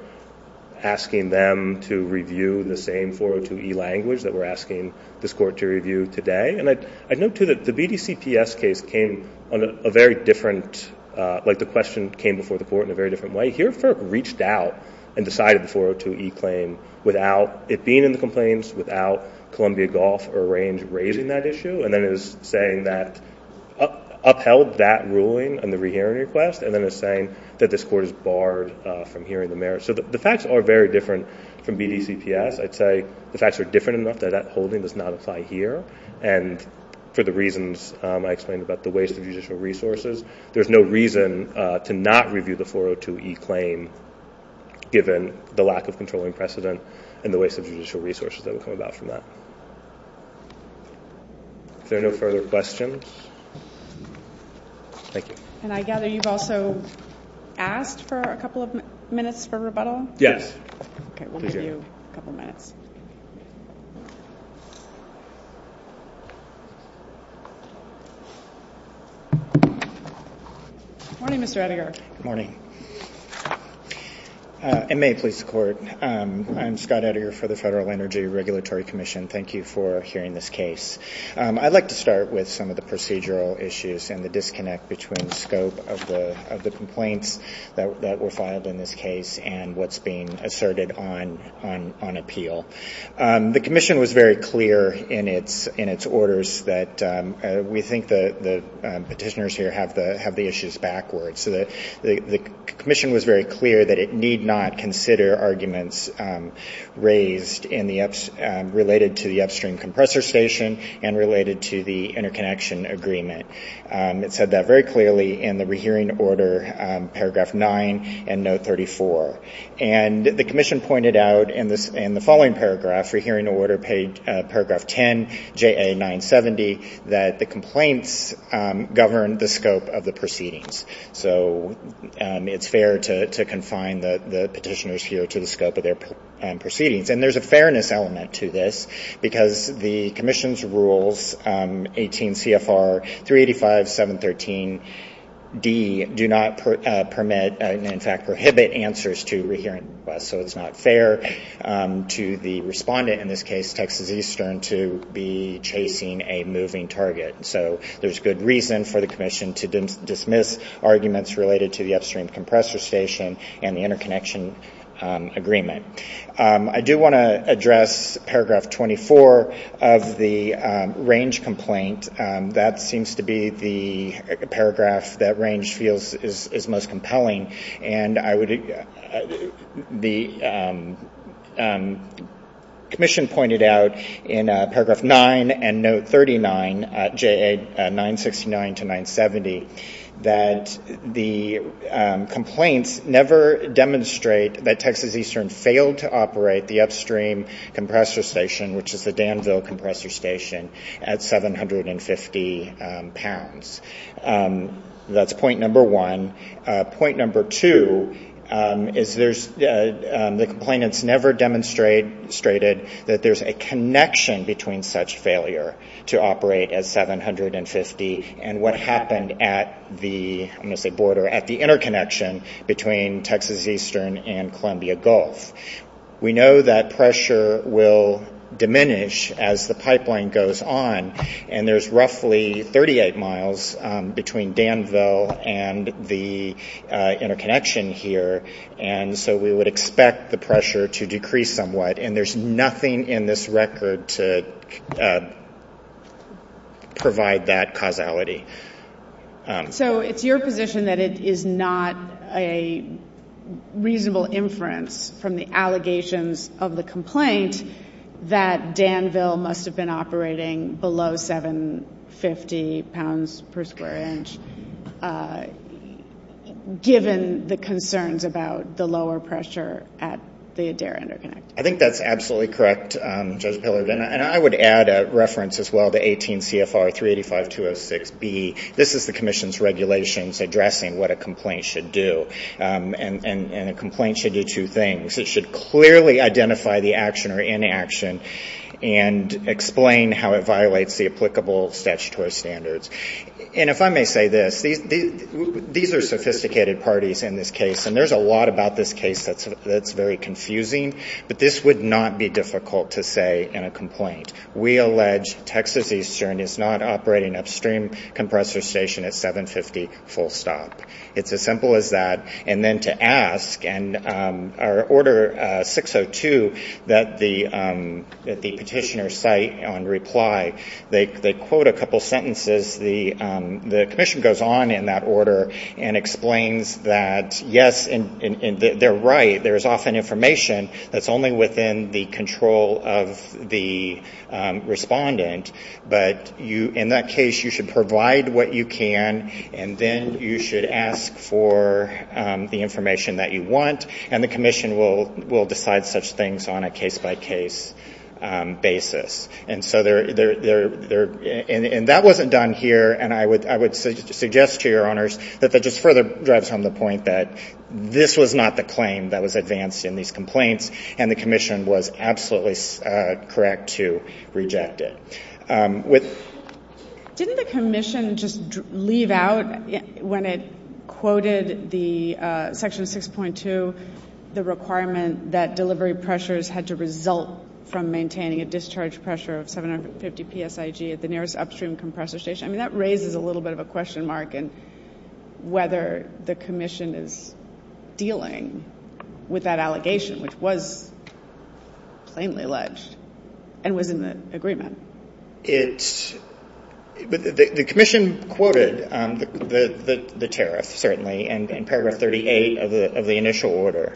asking them to review the same 402e language that we're asking this Court to review today. And I note, too, that the BDCPS case came on a very different – like, the question came before the Court in a very different way. Here, FERC reached out and decided the 402e claim without it being in the complaints, without Columbia Gulf or Range raising that issue, and then is saying that – upheld that ruling and the rehearing request, and then is saying that this Court is barred from hearing the merits. So the facts are very different from BDCPS. I'd say the facts are different enough that that holding does not apply here. And for the reasons I explained about the waste of judicial resources, there's no reason to not review the 402e claim, given the lack of controlling precedent and the waste of judicial resources that would come about from that. Are there no further questions? Thank you. And I gather you've also asked for a couple of minutes for rebuttal? Yes. Okay, we'll give you a couple minutes. Good morning, Mr. Edinger. Good morning. And may it please the Court, I'm Scott Edinger for the Federal Energy Regulatory Commission. Thank you for hearing this case. I'd like to start with some of the procedural issues and the disconnect between the scope of the complaints that were filed in this case and what's being asserted on appeal. The Commission was very clear in its orders that we think the petitioners here have the issues backwards. So the Commission was very clear that it need not consider arguments raised in the – and related to the interconnection agreement. It said that very clearly in the rehearing order, Paragraph 9 and Note 34. And the Commission pointed out in the following paragraph, Rehearing Order Paragraph 10, JA 970, that the complaints govern the scope of the proceedings. So it's fair to confine the petitioners here to the scope of their proceedings. And there's a fairness element to this because the Commission's rules, 18 CFR 385, 713D, do not permit – in fact, prohibit answers to rehearing. So it's not fair to the respondent in this case, Texas Eastern, to be chasing a moving target. So there's good reason for the Commission to dismiss arguments related to the upstream compressor station and the interconnection agreement. I do want to address Paragraph 24 of the range complaint. That seems to be the paragraph that range feels is most compelling. And I would – the Commission pointed out in Paragraph 9 and Note 39, JA 969 to 970, that the complaints never demonstrate that Texas Eastern failed to operate the upstream compressor station, which is the Danville Compressor Station, at 750 pounds. That's point number one. Point number two is there's – the complainants never demonstrated that there's a connection between such failure to operate at 750 and what happened at the – I'm going to say border – at the interconnection between Texas Eastern and Columbia Gulf. We know that pressure will diminish as the pipeline goes on, and there's roughly 38 miles between Danville and the interconnection here, and so we would expect the pressure to decrease somewhat. And there's nothing in this record to provide that causality. So it's your position that it is not a reasonable inference from the allegations of the complaint that Danville must have been operating below 750 pounds per square inch, given the concerns about the lower pressure at the Adair interconnection. I think that's absolutely correct, Judge Pillars. And I would add a reference as well to 18 CFR 385-206B. This is the Commission's regulations addressing what a complaint should do, and a complaint should do two things. It should clearly identify the action or inaction and explain how it violates the applicable statutory standards. And if I may say this, these are sophisticated parties in this case, and there's a lot about this case that's very confusing, but this would not be difficult to say in a complaint. We allege Texas Eastern is not operating upstream compressor station at 750 full stop. It's as simple as that. And then to ask, and our Order 602 that the petitioners cite on reply, they quote a couple sentences. The Commission goes on in that order and explains that, yes, they're right. There's often information that's only within the control of the respondent, but in that case you should provide what you can, and then you should ask for the information that you want, and the Commission will decide such things on a case-by-case basis. And that wasn't done here, and I would suggest to your Honors that that just further drives home the point that this was not the claim that was advanced in these complaints, and the Commission was absolutely correct to reject it. Didn't the Commission just leave out when it quoted Section 6.2 the requirement that delivery pressures had to result from maintaining a discharge pressure of 750 PSIG at the nearest upstream compressor station? I mean, that raises a little bit of a question mark in whether the Commission is dealing with that allegation, which was plainly alleged and was in the agreement. The Commission quoted the tariff, certainly, in paragraph 38 of the initial order,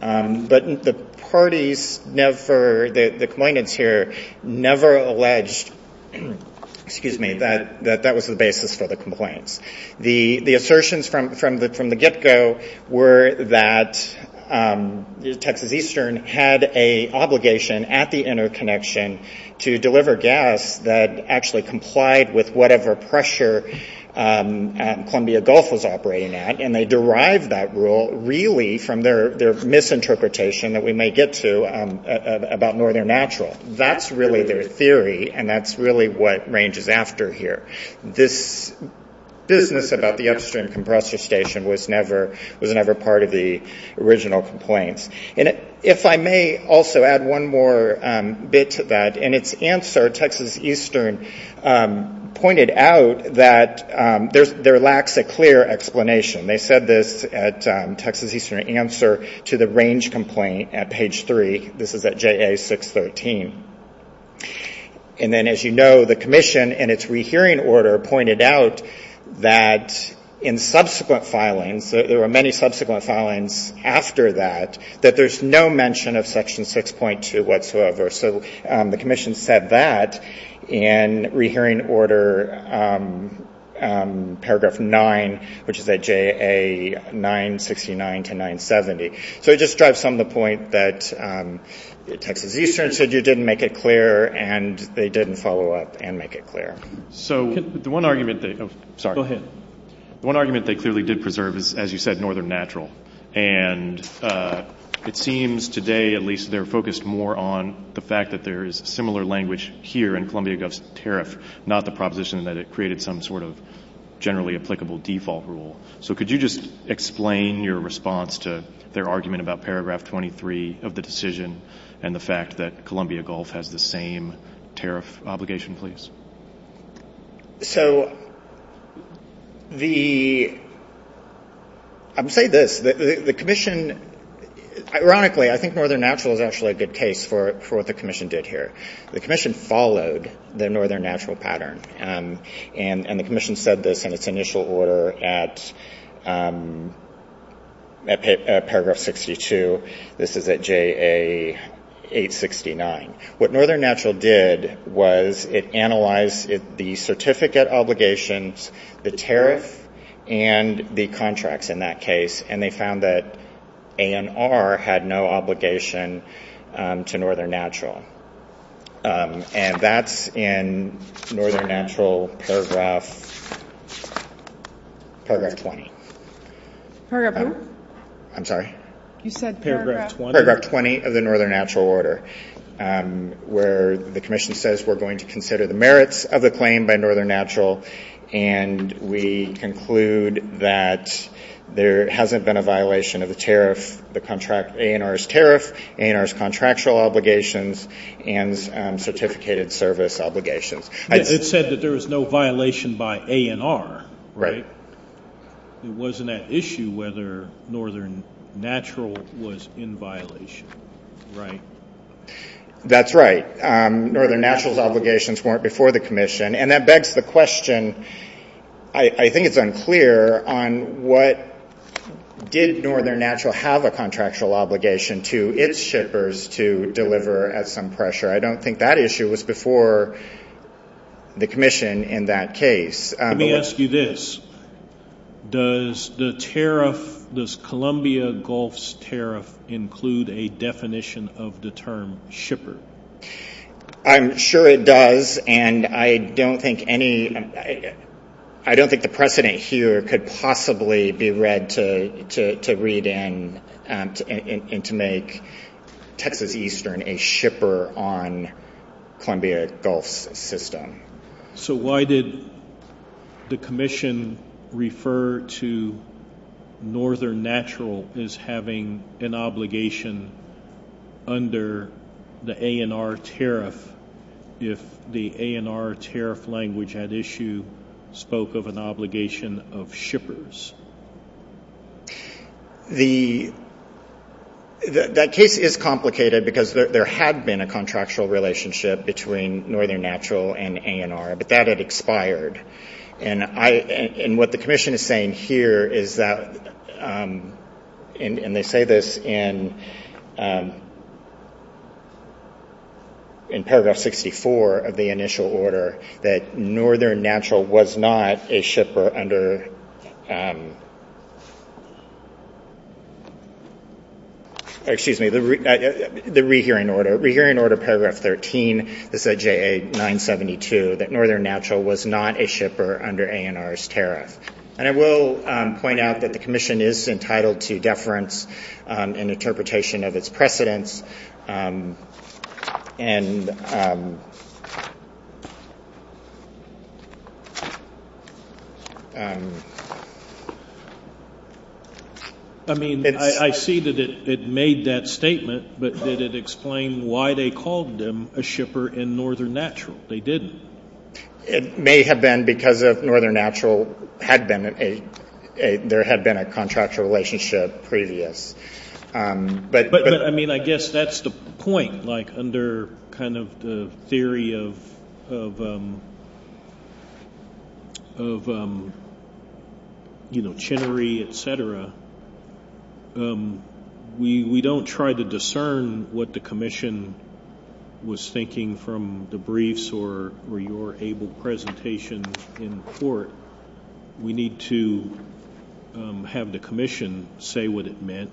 but the parties never, the complainant here, never alleged that that was the basis for the complaint. The assertions from the get-go were that Texas Eastern had an obligation at the interconnection to deliver gas that actually complied with whatever pressure Columbia Gulf was operating at, and they derived that rule really from their misinterpretation that we may get to about Northern Natural. That's really their theory, and that's really what ranges after here. This business about the upstream compressor station was never part of the original complaint. If I may also add one more bit to that. In its answer, Texas Eastern pointed out that there lacks a clear explanation. They said this at Texas Eastern answer to the range complaint at page 3. This is at JA 613. And then, as you know, the Commission, in its rehearing order, pointed out that in subsequent filings, there were many subsequent filings after that, that there's no mention of section 6.2 whatsoever. So the Commission said that in rehearing order paragraph 9, which is at JA 969 to 970. So it just drives home the point that Texas Eastern said you didn't make it clear, and they didn't follow up and make it clear. The one argument they clearly did preserve is, as you said, Northern Natural. And it seems today at least they're focused more on the fact that there is similar language here in Columbia Gulf's tariff, not the proposition that it created some sort of generally applicable default rule. So could you just explain your response to their argument about paragraph 23 of the decision and the fact that Columbia Gulf has the same tariff obligation, please? So the – I'll say this. The Commission – ironically, I think Northern Natural is actually a good case for what the Commission did here. The Commission followed the Northern Natural pattern, and the Commission said this in its initial order at paragraph 62. This is at JA 869. What Northern Natural did was it analyzed the certificate obligations, the tariff, and the contracts in that case, and they found that ANR had no obligation to Northern Natural. And that's in Northern Natural paragraph 20. Paragraph who? I'm sorry. You said paragraph 20. Paragraph 20 of the Northern Natural order, where the Commission says we're going to consider the merits of the planning by Northern Natural, and we conclude that there hasn't been a violation of the tariff, ANR's tariff, ANR's contractual obligations, and certificated service obligations. It said that there was no violation by ANR. Right. It wasn't at issue whether Northern Natural was in violation, right? That's right. Northern Natural's obligations weren't before the Commission, and that begs the question – I think it's unclear on what – did Northern Natural have a contractual obligation to its shippers to deliver at some pressure? I don't think that issue was before the Commission in that case. Let me ask you this. Does the tariff – does Columbia Gulf's tariff include a definition of the term shipper? I'm sure it does, and I don't think any – I don't think the precedent here could possibly be read to read in and to make Texas Eastern a shipper on Columbia Gulf's system. So why did the Commission refer to Northern Natural as having an obligation under the ANR tariff if the ANR tariff language at issue spoke of an obligation of shippers? The – that case is complicated because there had been a contractual relationship between Northern Natural and ANR, but that had expired, and what the Commission is saying here is that – and they say this in paragraph 64 of the initial order that Northern Natural was not a shipper under – excuse me, the rehearing order. Rehearing order, paragraph 13, is that JA-972, that Northern Natural was not a shipper under ANR's tariff. And I will point out that the Commission is entitled to deference and interpretation of its precedents, and – I mean, I see that it made that statement, but did it explain why they called them a shipper in Northern Natural? They didn't. It may have been because Northern Natural had been a – there had been a contractual relationship previous. But, I mean, I guess that's the point. Like, under kind of the theory of, you know, chinery, et cetera, we don't try to discern what the Commission was thinking from the briefs or your able presentation in court. We need to have the Commission say what it meant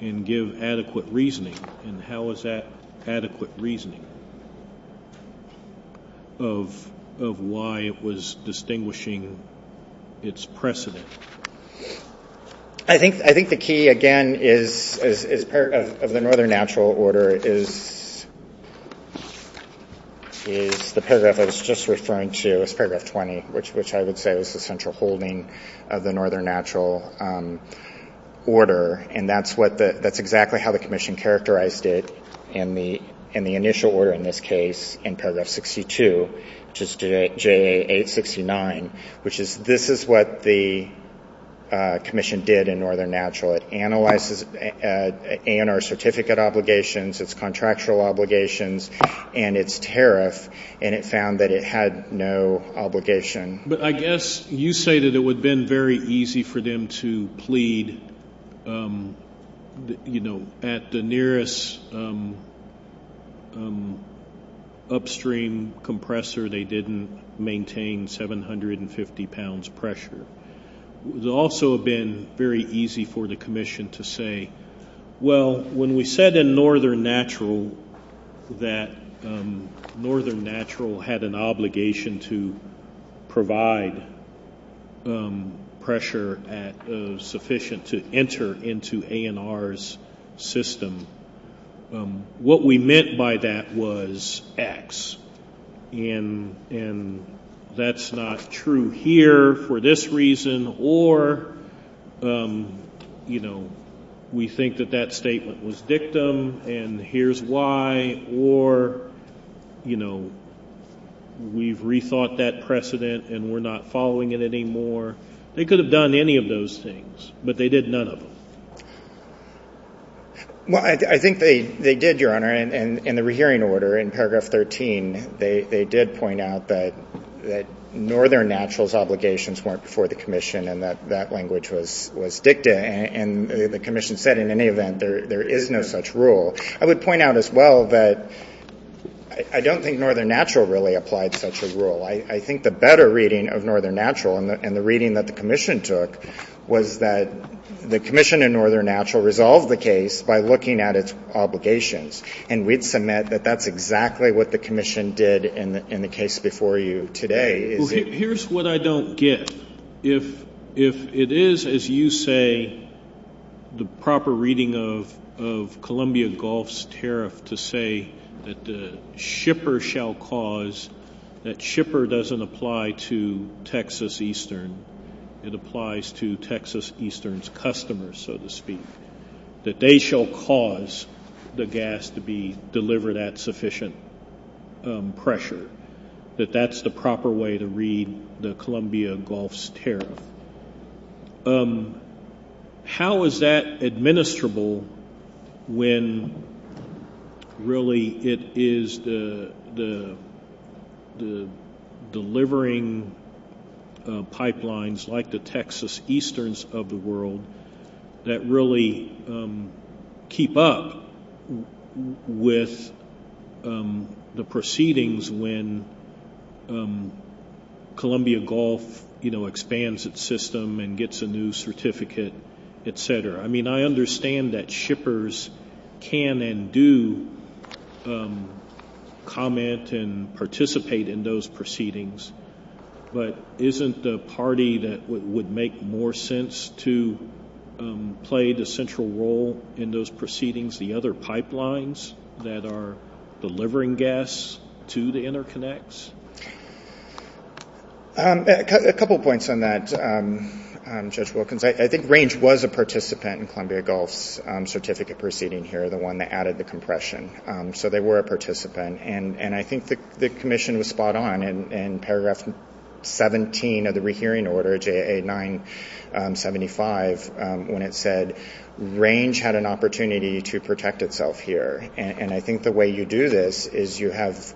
and give adequate reasoning. And how is that adequate reasoning of why it was distinguishing its precedent? I think the key, again, is – of the Northern Natural order is the paragraph I was just referring to, which is paragraph 20, which I would say is the central holding of the Northern Natural order. And that's exactly how the Commission characterized it in the initial order in this case, in paragraph 62, which is JA-869, which is this is what the Commission did in Northern Natural. It analyzed its ANR certificate obligations, its contractual obligations, and its tariff, and it found that it had no obligation. But I guess you say that it would have been very easy for them to plead, you know, at the nearest upstream compressor they didn't maintain 750 pounds of pressure. It would also have been very easy for the Commission to say, Well, when we said in Northern Natural that Northern Natural had an obligation to provide pressure sufficient to enter into ANR's system, what we meant by that was X. And that's not true here for this reason. Or, you know, we think that that statement was dictum and here's why. Or, you know, we've rethought that precedent and we're not following it anymore. They could have done any of those things, but they did none of them. Well, I think they did, Your Honor, and in the rehearing order in paragraph 13, they did point out that Northern Natural's obligations weren't before the Commission and that that language was dictum, and the Commission said in any event there is no such rule. I would point out as well that I don't think Northern Natural really applied such a rule. I think the better reading of Northern Natural and the reading that the Commission took was that the Commission in Northern Natural resolved the case by looking at its obligations, and we'd submit that that's exactly what the Commission did in the case before you today. Well, here's what I don't get. If it is, as you say, the proper reading of Columbia Gulf's tariff to say that the shipper shall cause, that shipper doesn't apply to Texas Eastern. It applies to Texas Eastern's customers, so to speak, that they shall cause the gas to be delivered at sufficient pressure, that that's the proper way to read the Columbia Gulf's tariff. How is that administrable when really it is the delivering pipelines like the Texas Easterns of the world that really keep up with the proceedings when Columbia Gulf, you know, expands its system and gets a new certificate, et cetera? I mean, I understand that shippers can and do comment and participate in those proceedings, but isn't the party that would make more sense to play the central role in those proceedings, the other pipelines that are delivering gas to the interconnects? A couple of points on that, Judge Wilkins. I think Range was a participant in Columbia Gulf's certificate proceeding here, the one that added the compression, so they were a participant, and I think the commission was spot on in paragraph 17 of the rehearing order, J.A. 975, when it said Range had an opportunity to protect itself here, and I think the way you do this is you have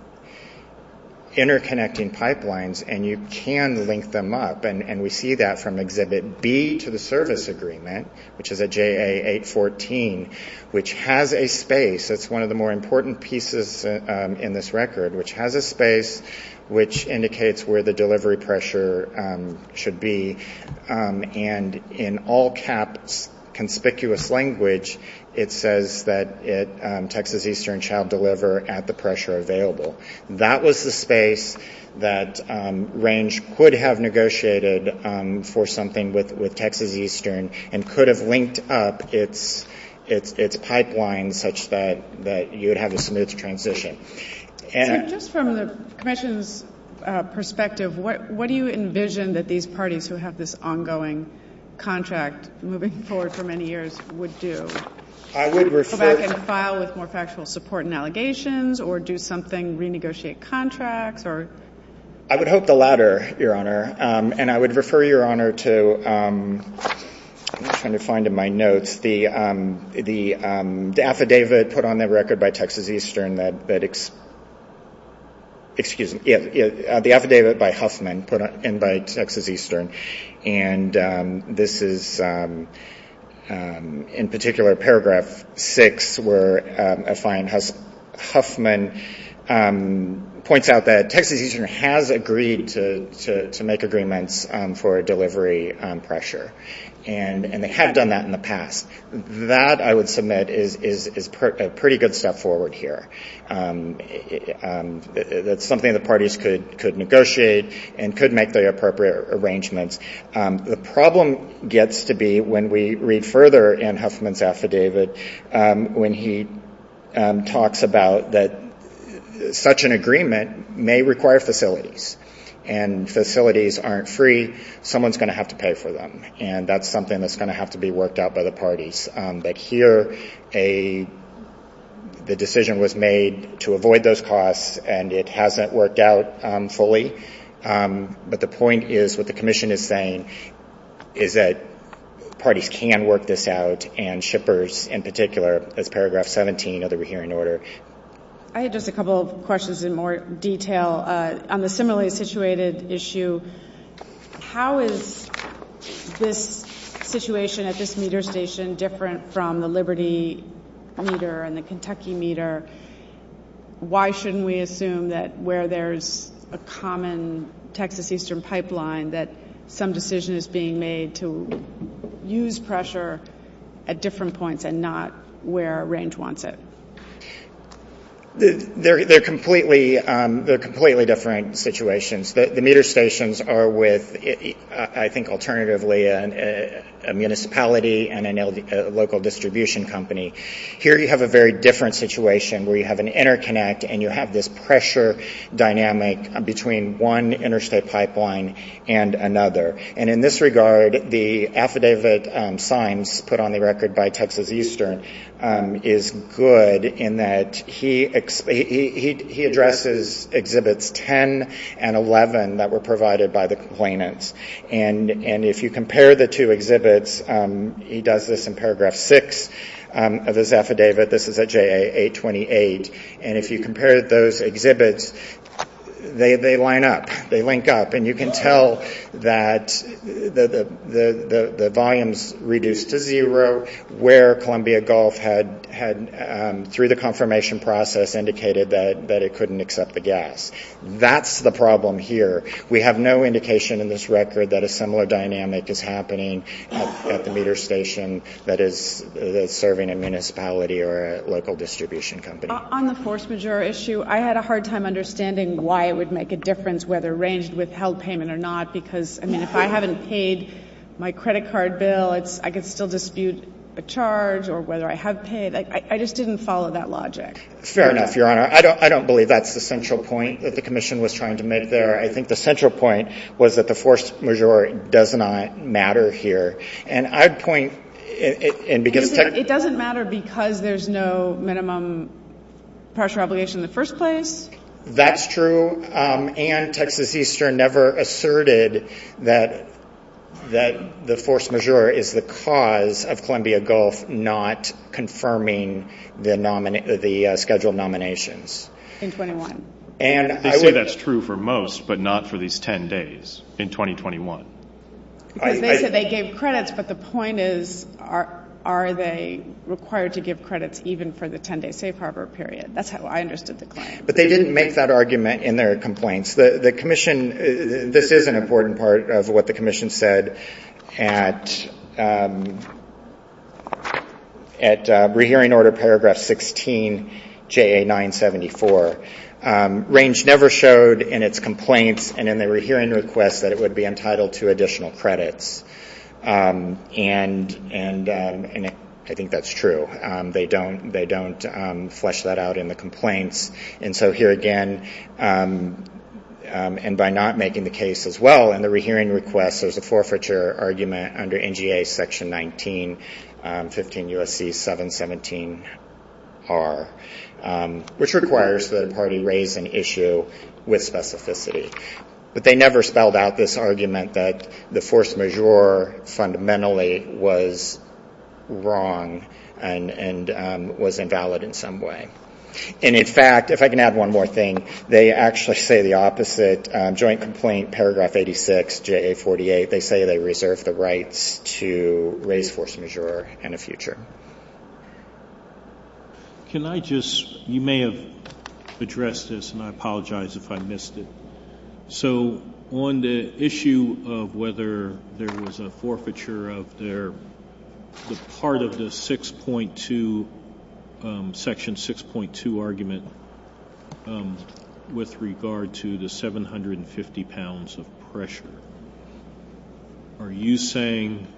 interconnecting pipelines and you can link them up, and we see that from Exhibit B to the service agreement, which is a J.A. 814, which has a space. It's one of the more important pieces in this record, which has a space, which indicates where the delivery pressure should be, and in all caps, conspicuous language, it says that Texas Eastern shall deliver at the pressure available. That was the space that Range could have negotiated for something with Texas Eastern and could have linked up its pipeline such that you would have a smooth transition. And just from the commission's perspective, what do you envision that these parties who have this ongoing contract moving forward for many years would do? I would refer... Go back and file with more factual support and allegations or do something, renegotiate contracts or... I would hope the latter, Your Honor, and I would refer, Your Honor, to the affidavit put on the record by Texas Eastern, the affidavit by Huffman and by Texas Eastern, and this is in particular Paragraph 6 where a client, Huffman, points out that Texas Eastern has agreed to make agreements for delivery pressure, and they have done that in the past. That, I would submit, is a pretty good step forward here. That's something the parties could negotiate and could make the appropriate arrangements. The problem gets to be when we read further in Huffman's affidavit when he talks about that such an agreement may require facilities, and facilities aren't free, someone's going to have to pay for them, and that's something that's going to have to be worked out by the parties. But here, the decision was made to avoid those costs, and it hasn't worked out fully. But the point is, what the commission is saying, is that parties can work this out, and shippers in particular, as Paragraph 17 of the rehearing order. I have just a couple of questions in more detail. On the simulated situated issue, how is this situation at this meter station different from the Liberty meter and the Kentucky meter? Why shouldn't we assume that where there's a common Texas eastern pipeline, that some decision is being made to use pressure at different points and not where range wants it? They're completely different situations. The meter stations are with, I think alternatively, a municipality and a local distribution company. Here you have a very different situation where you have an interconnect and you have this pressure dynamic between one interstate pipeline and another. And in this regard, the affidavit signs put on the record by Texas eastern is good, in that he addresses Exhibits 10 and 11 that were provided by the complainants. And if you compare the two exhibits, he does this in Paragraph 6, of his affidavit, this is at JA 828, and if you compare those exhibits, they line up, they link up, and you can tell that the volume's reduced to zero, where Columbia Gulf had, through the confirmation process, indicated that it couldn't accept the gas. That's the problem here. We have no indication in this record that a similar dynamic is happening at the meter station that is serving a municipality or a local distribution company. On the force majeure issue, I had a hard time understanding why it would make a difference, whether it ranged with health payment or not, because, I mean, if I haven't paid my credit card bill, I could still dispute a charge, or whether I have paid. I just didn't follow that logic. Fair enough, Your Honor. I don't believe that's the central point that the commission was trying to make there. I think the central point was that the force majeure does not matter here. It doesn't matter because there's no minimum partial obligation in the first place? That's true, and Texas Eastern never asserted that the force majeure is the cause of Columbia Gulf not confirming the scheduled nominations. In 21. They say that's true for most, but not for these 10 days, in 2021. They said they gave credits, but the point is, are they required to give credits even for the 10-day safe harbor period? That's how I understood the claim. But they didn't make that argument in their complaints. The commission, this is an important part of what the commission said at Rehearing Order Paragraph 16, JA 974. Range never showed in its complaints and in the rehearing request that it would be entitled to additional credits, and I think that's true. They don't flesh that out in the complaints. And so here again, and by not making the case as well in the rehearing request, there's a forfeiture argument under NGA Section 19, 15 U.S.C. 717R, which requires the party raise an issue with specificity. But they never spelled out this argument that the force majeure fundamentally was wrong and was invalid in some way. And in fact, if I can add one more thing, they actually say the opposite. In Joint Complaint Paragraph 86, JA 48, they say they reserve the right to raise force majeure in the future. Can I just, you may have addressed this, and I apologize if I missed it. So on the issue of whether there was a forfeiture out there, part of the Section 6.2 argument with regard to the 750 pounds of pressure, are you saying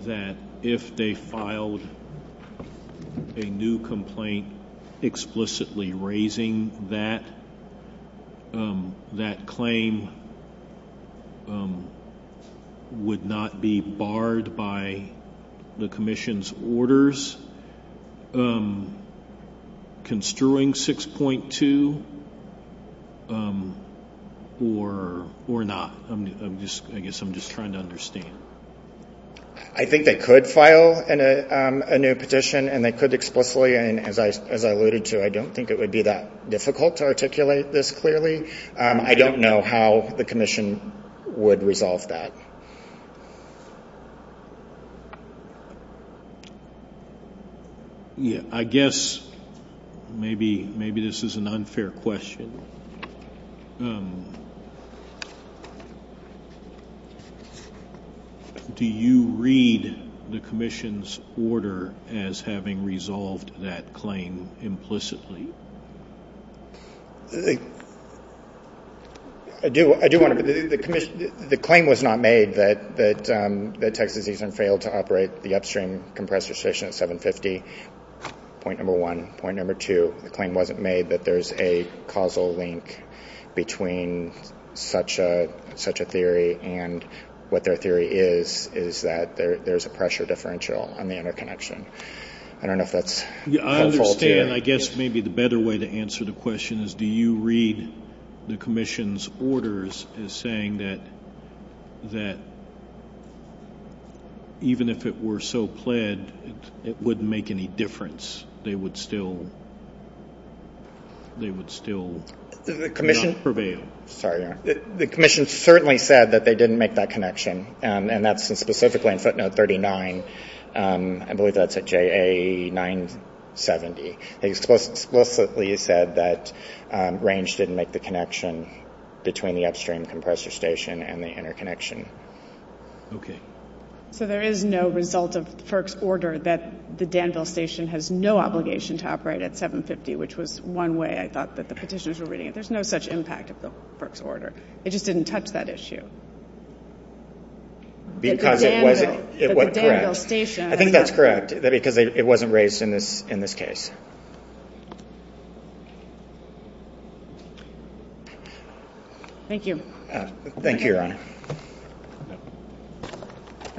that if they filed a new complaint explicitly raising that, that claim would not be barred by the Commission's orders construing 6.2 or not? I guess I'm just trying to understand. I think they could file a new petition, and they could explicitly. And as I alluded to, I don't think it would be that difficult to articulate this clearly. I don't know how the Commission would resolve that. I guess maybe this is an unfair question. Do you read the Commission's order as having resolved that claim implicitly? I do. The claim was not made that Texas Eastman failed to operate the upstream compressed restriction at 750, point number one. Point number two, the claim wasn't made that there's a causal link between such a theory and what their theory is, is that there's a pressure differential on the interconnection. I don't know if that's helpful. I understand. I guess maybe the better way to answer the question is, do you read the Commission's orders as saying that even if it were so pled, it wouldn't make any difference, they would still not prevail? The Commission certainly said that they didn't make that connection, and that's specifically in footnote 39. I believe that's at JA 970. They explicitly said that range didn't make the connection between the upstream compressor station and the interconnection. Okay. So there is no result of FERC's order that the Danville station has no obligation to operate at 750, which was one way I thought that the petitioners were reading it. There's no such impact of the FERC's order. It just didn't touch that issue. Because it was correct. I think that's correct, that it wasn't raised in this case. Thank you. Thank you, Your Honor.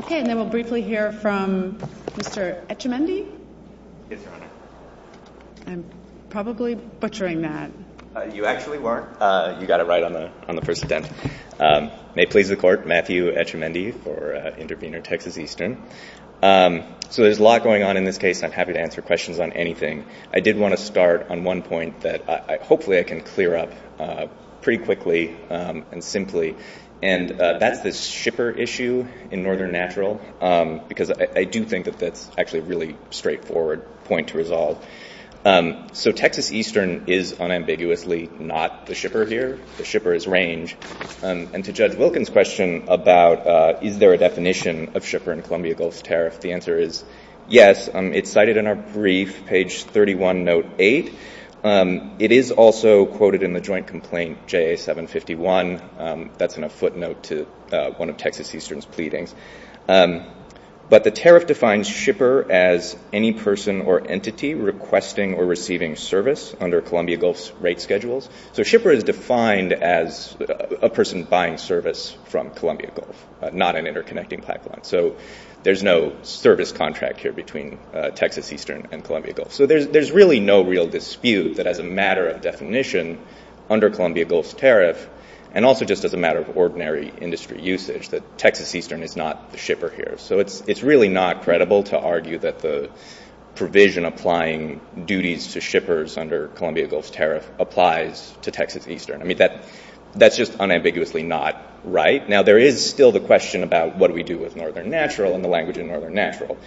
Okay, and then we'll briefly hear from Mr. Etchemendy. I'm probably butchering that. You actually weren't. You got it right on the first attempt. May it please the Court, Matthew Etchemendy for Intervener Texas Eastern. So there's a lot going on in this case, and I'm happy to answer questions on anything. I did want to start on one point that hopefully I can clear up pretty quickly and simply, and that is the shipper issue in Northern Natural, because I do think that that's actually a really straightforward point to resolve. So Texas Eastern is unambiguously not the shipper here. The shipper is Range. And to Judge Wilkins' question about is there a definition of shipper in Columbia Gulf Tariff, the answer is yes. It's cited in our brief, page 31, note 8. It is also quoted in the joint complaint JA-751. That's in a footnote to one of Texas Eastern's pleadings. But the tariff defines shipper as any person or entity requesting or receiving service under Columbia Gulf's rate schedules. So shipper is defined as a person buying service from Columbia Gulf, not an interconnecting platform. So there's no service contract here between Texas Eastern and Columbia Gulf. So there's really no real dispute that as a matter of definition under Columbia Gulf's tariff and also just as a matter of ordinary industry usage that Texas Eastern is not the shipper here. So it's really not credible to argue that the provision applying duties to shippers under Columbia Gulf's tariff applies to Texas Eastern. I mean, that's just unambiguously not right. Now, there is still the question about what do we do with Northern Natural and the language of Northern Natural.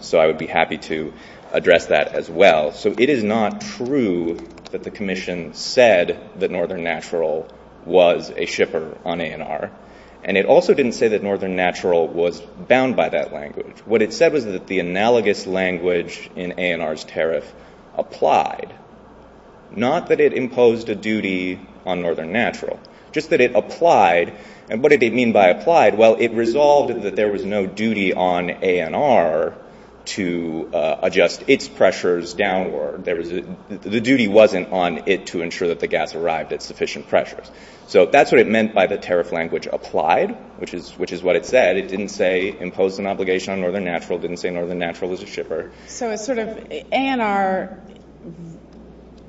So I would be happy to address that as well. So it is not true that the commission said that Northern Natural was a shipper on ANR. And it also didn't say that Northern Natural was bound by that language. What it said was that the analogous language in ANR's tariff applied. Not that it imposed a duty on Northern Natural. Just that it applied. And what did it mean by applied? Well, it resolved that there was no duty on ANR to adjust its pressures downward. The duty wasn't on it to ensure that the gas arrived at sufficient pressures. So that's what it meant by the tariff language applied, which is what it said. It didn't say impose an obligation on Northern Natural. It didn't say Northern Natural was a shipper. So it's sort of ANR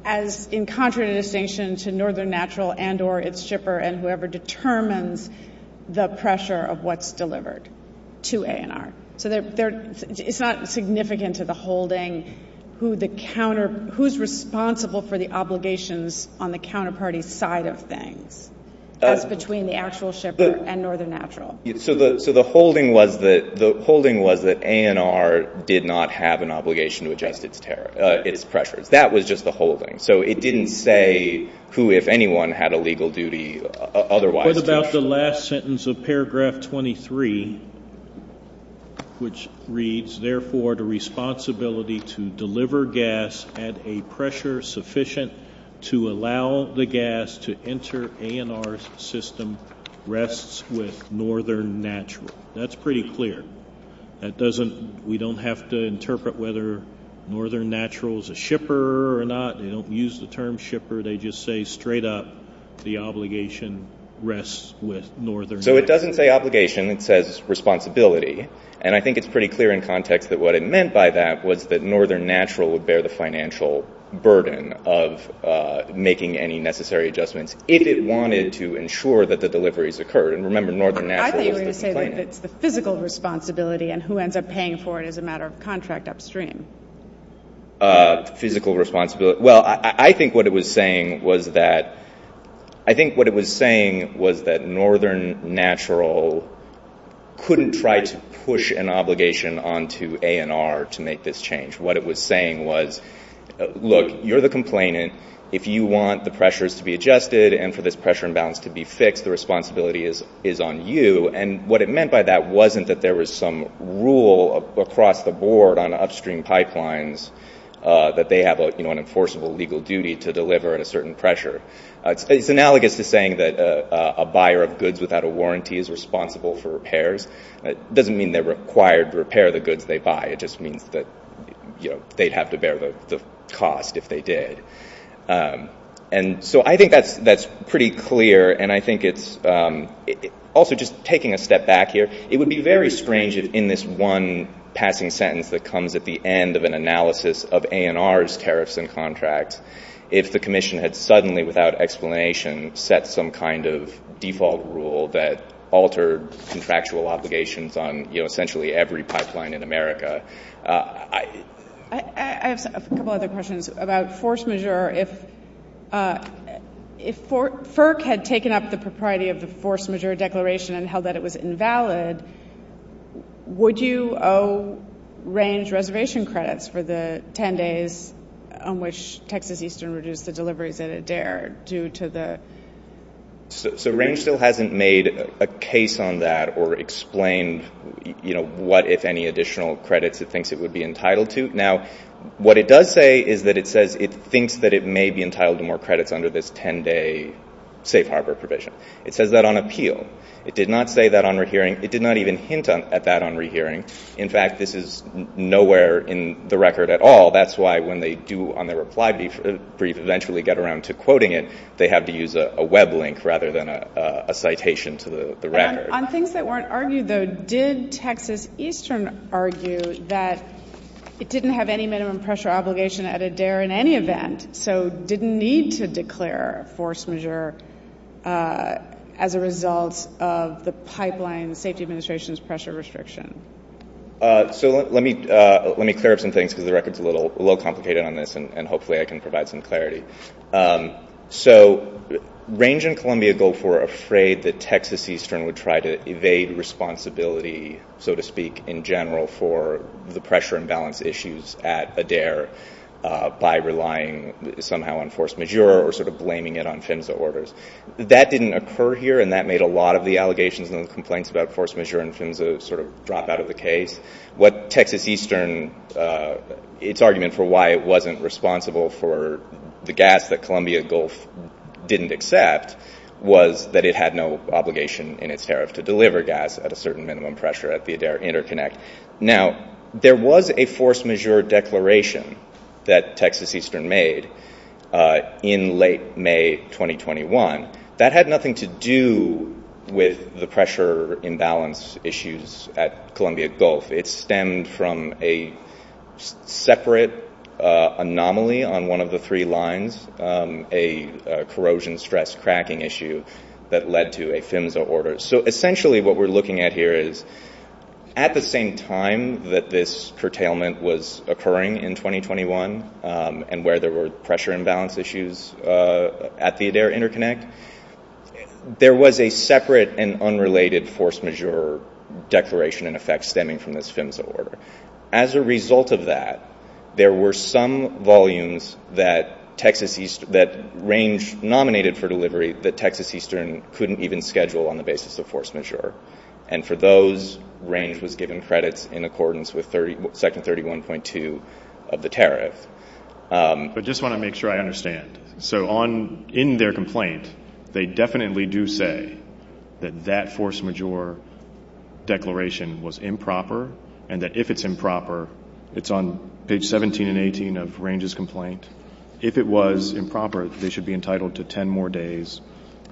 as in contraindication to Northern Natural and or its shipper and whoever determines the pressure of what's delivered to ANR. So it's not significant to the holding who's responsible for the obligations on the counterparty side of things. That's between the actual shipper and Northern Natural. So the holding was that ANR did not have an obligation to adjust its pressures. That was just the holding. So it didn't say who, if anyone, had a legal duty otherwise. What about the last sentence of paragraph 23, which reads, therefore the responsibility to deliver gas at a pressure sufficient to allow the gas to enter ANR's system rests with Northern Natural. That's pretty clear. We don't have to interpret whether Northern Natural is a shipper or not. They don't use the term shipper. They just say straight up the obligation rests with Northern Natural. So it doesn't say obligation. It says responsibility. And I think it's pretty clear in context that what it meant by that was that Northern Natural would bear the financial burden of making any necessary adjustments if it wanted to ensure that the deliveries occurred. And remember, Northern Natural is a company. I thought you were going to say that it's the physical responsibility and who ends up paying for it as a matter of contract upstream. Physical responsibility. Well, I think what it was saying was that Northern Natural couldn't try to push an obligation onto ANR to make this change. What it was saying was, look, you're the complainant. If you want the pressures to be adjusted and for this pressure imbalance to be fixed, the responsibility is on you. And what it meant by that wasn't that there was some rule across the board on upstream pipelines that they have an enforceable legal duty to deliver at a certain pressure. It's analogous to saying that a buyer of goods without a warranty is responsible for repairs. It doesn't mean they're required to repair the goods they buy. It just means that they'd have to bear the cost if they did. And so I think that's pretty clear. And I think it's also just taking a step back here. It would be very strange in this one passing sentence that comes at the end of an analysis of ANR's tariffs and contracts if the commission had suddenly without explanation set some kind of default rule that altered contractual obligations on essentially every pipeline in America. I have a couple other questions about force majeure. If FERC had taken up the propriety of the force majeure declaration and held that it was invalid, would you owe Range reservation credits for the 10 days on which Texas Eastern reduced the delivery that it dared due to the... So Range still hasn't made a case on that or explained, you know, what if any additional credits it thinks it would be entitled to. Now, what it does say is that it says it thinks that it may be entitled to more credits under this 10-day safe harbor provision. It says that on appeal. It did not say that on rehearing. It did not even hint at that on rehearing. In fact, this is nowhere in the record at all. That's why when they do on their reply brief eventually get around to quoting it, they have to use a web link rather than a citation to the record. On things that weren't argued, though, did Texas Eastern argue that it didn't have any minimum pressure obligation at ADARE in any event, so didn't need to declare force majeure as a result of the pipeline safety administration's pressure restriction? So let me clear up some things because the record is a little complicated on this, and hopefully I can provide some clarity. So Range and Columbia Gulf were afraid that Texas Eastern would try to evade responsibility, so to speak, in general for the pressure imbalance issues at ADARE by relying somehow on force majeure or sort of blaming it on PHMSA orders. That didn't occur here, and that made a lot of the allegations and the complaints about force majeure and PHMSA sort of drop out of the case. What Texas Eastern, its argument for why it wasn't responsible for the gas that Columbia Gulf didn't accept was that it had no obligation in its tariff to deliver gas at a certain minimum pressure at the ADARE interconnect. Now, there was a force majeure declaration that Texas Eastern made in late May 2021. That had nothing to do with the pressure imbalance issues at Columbia Gulf. It stemmed from a separate anomaly on one of the three lines, a corrosion stress cracking issue that led to a PHMSA order. So essentially what we're looking at here is at the same time that this curtailment was occurring in 2021 and where there were pressure imbalance issues at the ADARE interconnect, there was a separate and unrelated force majeure declaration in effect stemming from the PHMSA order. As a result of that, there were some volumes that Texas Eastern, that Range nominated for delivery that Texas Eastern couldn't even schedule on the basis of force majeure. And for those, Range was given credit in accordance with Section 31.2 of the tariff. I just want to make sure I understand. So in their complaint, they definitely do say that that force majeure declaration was improper and that if it's improper, it's on page 17 and 18 of Range's complaint. If it was improper, they should be entitled to 10 more days.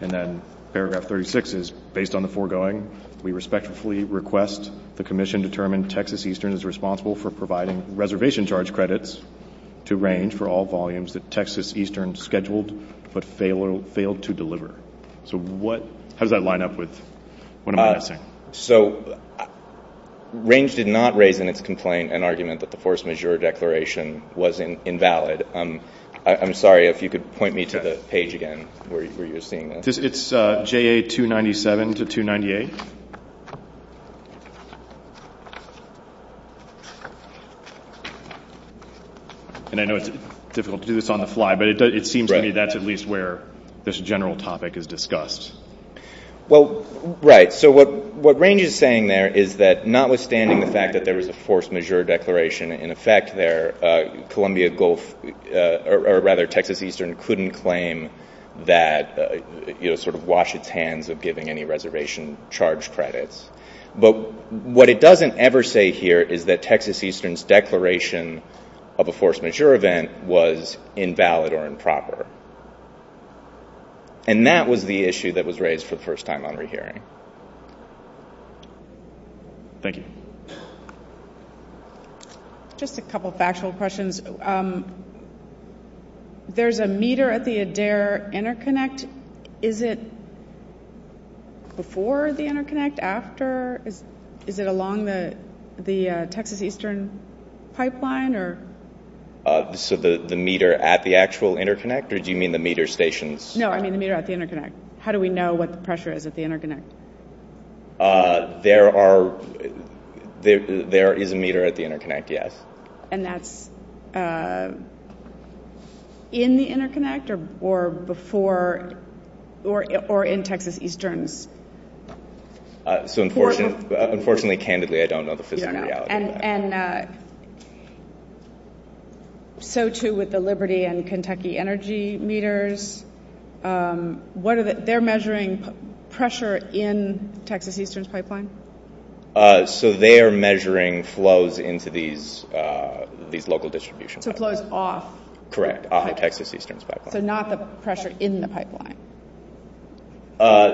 And then paragraph 36 is, based on the foregoing, we respectfully request the commission determine Texas Eastern is responsible for providing reservation charge credits to Range for all volumes that Texas Eastern scheduled but failed to deliver. So how does that line up with what I'm asking? So Range did not raise in its complaint an argument that the force majeure declaration was invalid. I'm sorry if you could point me to the page again where you were seeing this. It's JA 297 to 298. And I know it's difficult to do this on the fly, but it seems to me that's at least where this general topic is discussed. Well, right. So what Range is saying there is that notwithstanding the fact that there was a force majeure declaration in effect there, Columbia Gulf or rather Texas Eastern couldn't claim that, you know, sort of wash its hands of giving any reservation charge credits. But what it doesn't ever say here is that Texas Eastern's declaration of a force majeure event was invalid or improper. And that was the issue that was raised for the first time on re-hearing. Thank you. Just a couple factual questions. There's a meter at the Adair interconnect. Is it before the interconnect, after? Is it along the Texas Eastern pipeline? So the meter at the actual interconnect? Or do you mean the meter stations? No, I mean the meter at the interconnect. How do we know what the pressure is at the interconnect? There is a meter at the interconnect, yes. And that's in the interconnect or before or in Texas Eastern? So unfortunately, candidly, I don't know the physical reality of that. And so too with the Liberty and Kentucky Energy meters, they're measuring pressure in Texas Eastern's pipeline? So they are measuring flows into these local distribution pipelines. So flows off? Correct, off the Texas Eastern's pipeline. So not the pressure in the pipeline?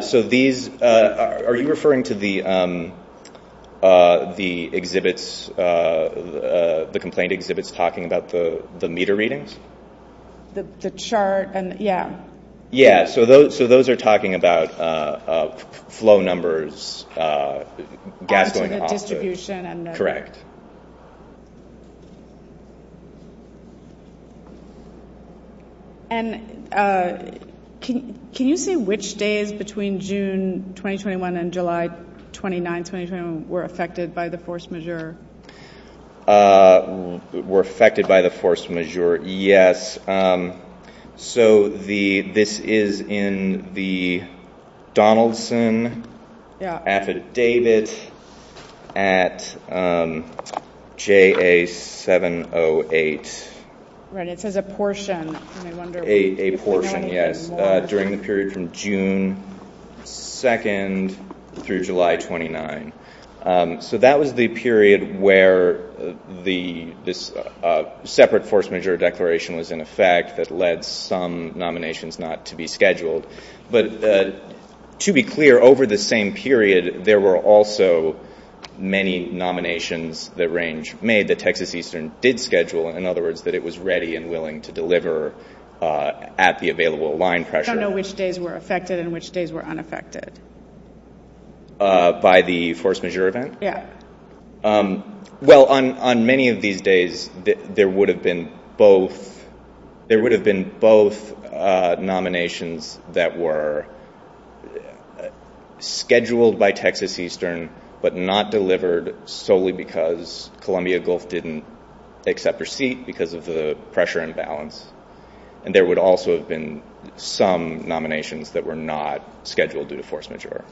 So these, are you referring to the exhibits, the complaint exhibits talking about the meter readings? The chart and, yeah. Yeah, so those are talking about flow numbers, gas going off those. Correct. And can you say which days between June 2021 and July 29, 2021 were affected by the force majeure? Were affected by the force majeure, yes. So this is in the Donaldson affidavit at, JA708. Right, it says a portion. A portion, yes. During the period from June 2nd through July 29th. So that was the period where the separate force majeure declaration was in effect that led some nominations not to be scheduled. But to be clear, over the same period, there were also many nominations that range made that Texas Eastern did schedule, in other words, that it was ready and willing to deliver at the available line pressure. I don't know which days were affected and which days were unaffected. By the force majeure event? Yeah. Well, on many of these days, there would have been both, nominations that were scheduled by Texas Eastern, but not delivered solely because Columbia Gulf didn't accept receipt because of the pressure imbalance. And there would also have been some nominations that were not scheduled due to force majeure.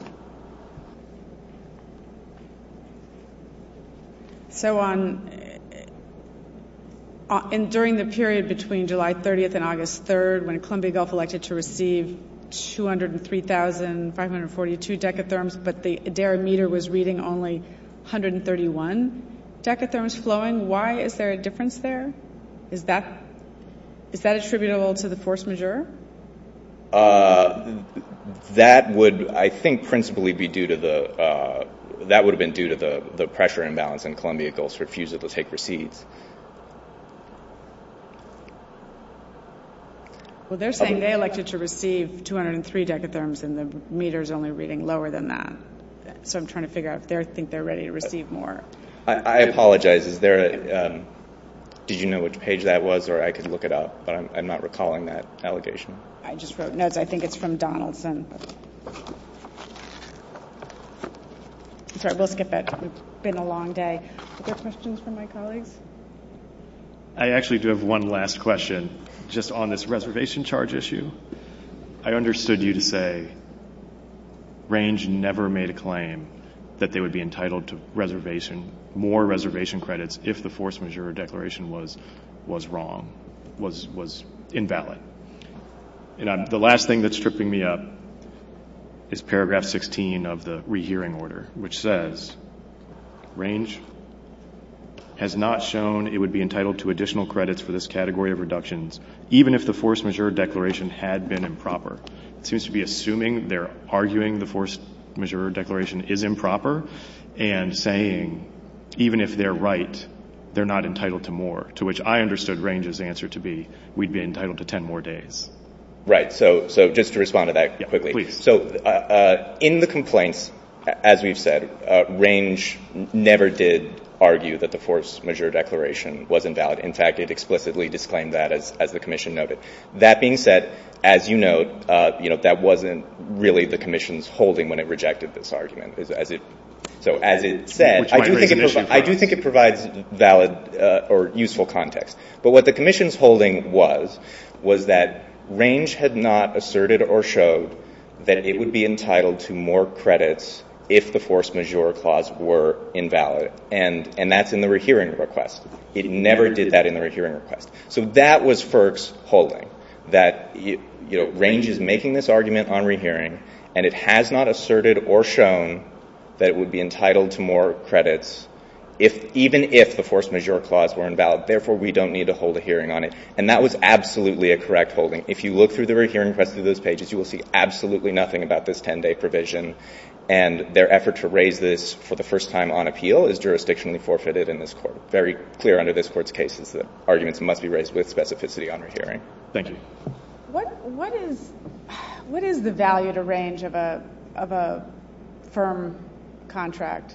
And during the period between July 30th and August 3rd, when Columbia Gulf elected to receive 203,542 decatherms, but the Adair meter was reading only 131 decatherms flowing, why is there a difference there? Is that attributable to the force majeure? That would, I think, principally be due to the, that would have been due to the pressure imbalance and Columbia Gulf's refusal to take receipts. Well, they're saying they elected to receive 203 decatherms and the meter's only reading lower than that. So I'm trying to figure out if they think they're ready to receive more. I apologize. Is there, did you know what page that was or I could look it up, but I'm not recalling that allegation. I just wrote notes. I think it's from Donaldson. It's been a long day. I actually do have one last question just on this reservation charge issue. I understood you to say range never made a claim that they would be entitled to reservation, more reservation credits. If the force majeure declaration was, was wrong, was, was invalid. And I'm the last thing that's tripping me up is paragraph 16 of the rehearing order, which says range has not shown. It would be entitled to additional credits for this category of reductions. Even if the force majeure declaration had been improper, it seems to be assuming they're arguing the force majeure declaration is improper and saying, even if they're right, they're not entitled to more to which I understood ranges answer to be. We'd be entitled to 10 more days. Right. So, so just to respond to that quickly. So in the complaints, as we've said, range never did argue that the force majeure declaration wasn't valid. In fact, it explicitly disclaimed that as the commission noted that being said, as you know, you know, that wasn't really the commission's holding when it rejected this argument. So as it said, I do think it, I do think it provides valid or useful context, but what the commission's holding was, was that range had not asserted or showed that it would be entitled to more credits. If the force majeure clause were invalid and, and that's in the rehearing request, it never did that in the right hearing request. So that was first holding that, you know, range is making this argument on rehearing and it has not asserted or shown that it would be entitled to more credits. If even if the force majeure clause were invalid, therefore we don't need to hold a hearing on it. And that was absolutely a correct holding. If you look through the rehearing press to those pages, you will see absolutely nothing about this 10 day provision and their effort to raise this for the first time on appeal is jurisdictionally forfeited in this court. Very clear under this court's cases, the arguments must be raised with specificity on your hearing. Thank you. What, what is, what is the value to range of a, of a firm contract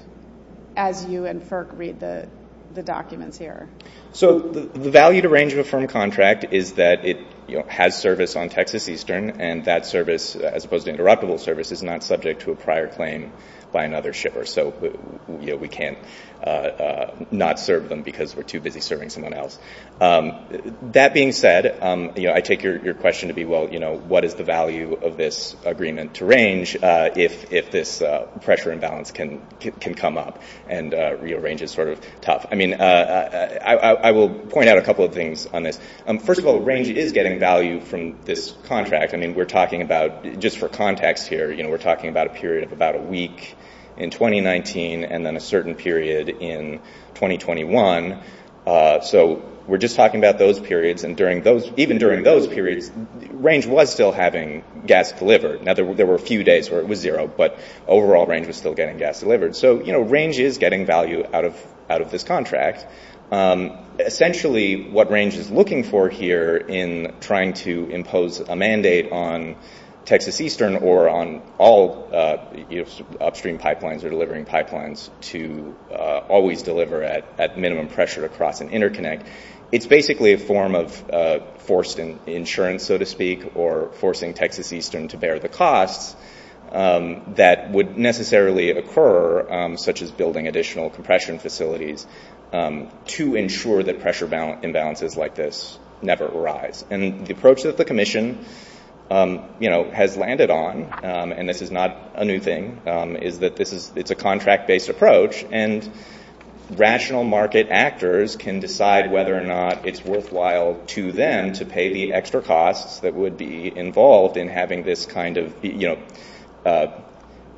as you and FERC read the, the documents here? So the value to range of a firm contract is that it has service on Texas Eastern. And that service as opposed to interoperable service is not subject to a prior claim by another shipper. So we can't not serve them because we're too busy serving someone else. That being said, you know, I take your, your question to be, well, you know, what is the value of this agreement to range? If, if this pressure imbalance can, can come up and rearrange is sort of tough. I mean, I will point out a couple of things on this. First of all, range is getting value from this contract. I mean, we're talking about just for context here, you know, we're talking about a period of about a week in 2019 and then a certain period in 2021. So we're just talking about those periods. And during those, even during those periods range was still having gas delivered. Now there were a few days where it was zero, but overall range was still getting gas delivered. So, you know, range is getting value out of, out of this contract. Essentially what range is looking for here in trying to impose a mandate on Texas Eastern or on all upstream pipelines or delivering pipelines to always deliver at, at minimum pressure across an interconnect. It's basically a form of forcing insurance, so to speak, or forcing Texas Eastern to bear the costs that would necessarily occur, such as building additional compression facilities to ensure that pressure balance imbalances like this never arise. And the approach that the commission, you know, has landed on, and this is not a new thing is that this is it's a contract based approach and rational market actors can decide whether or not it's worthwhile to them to pay the extra costs that would be involved in having this kind of, you know,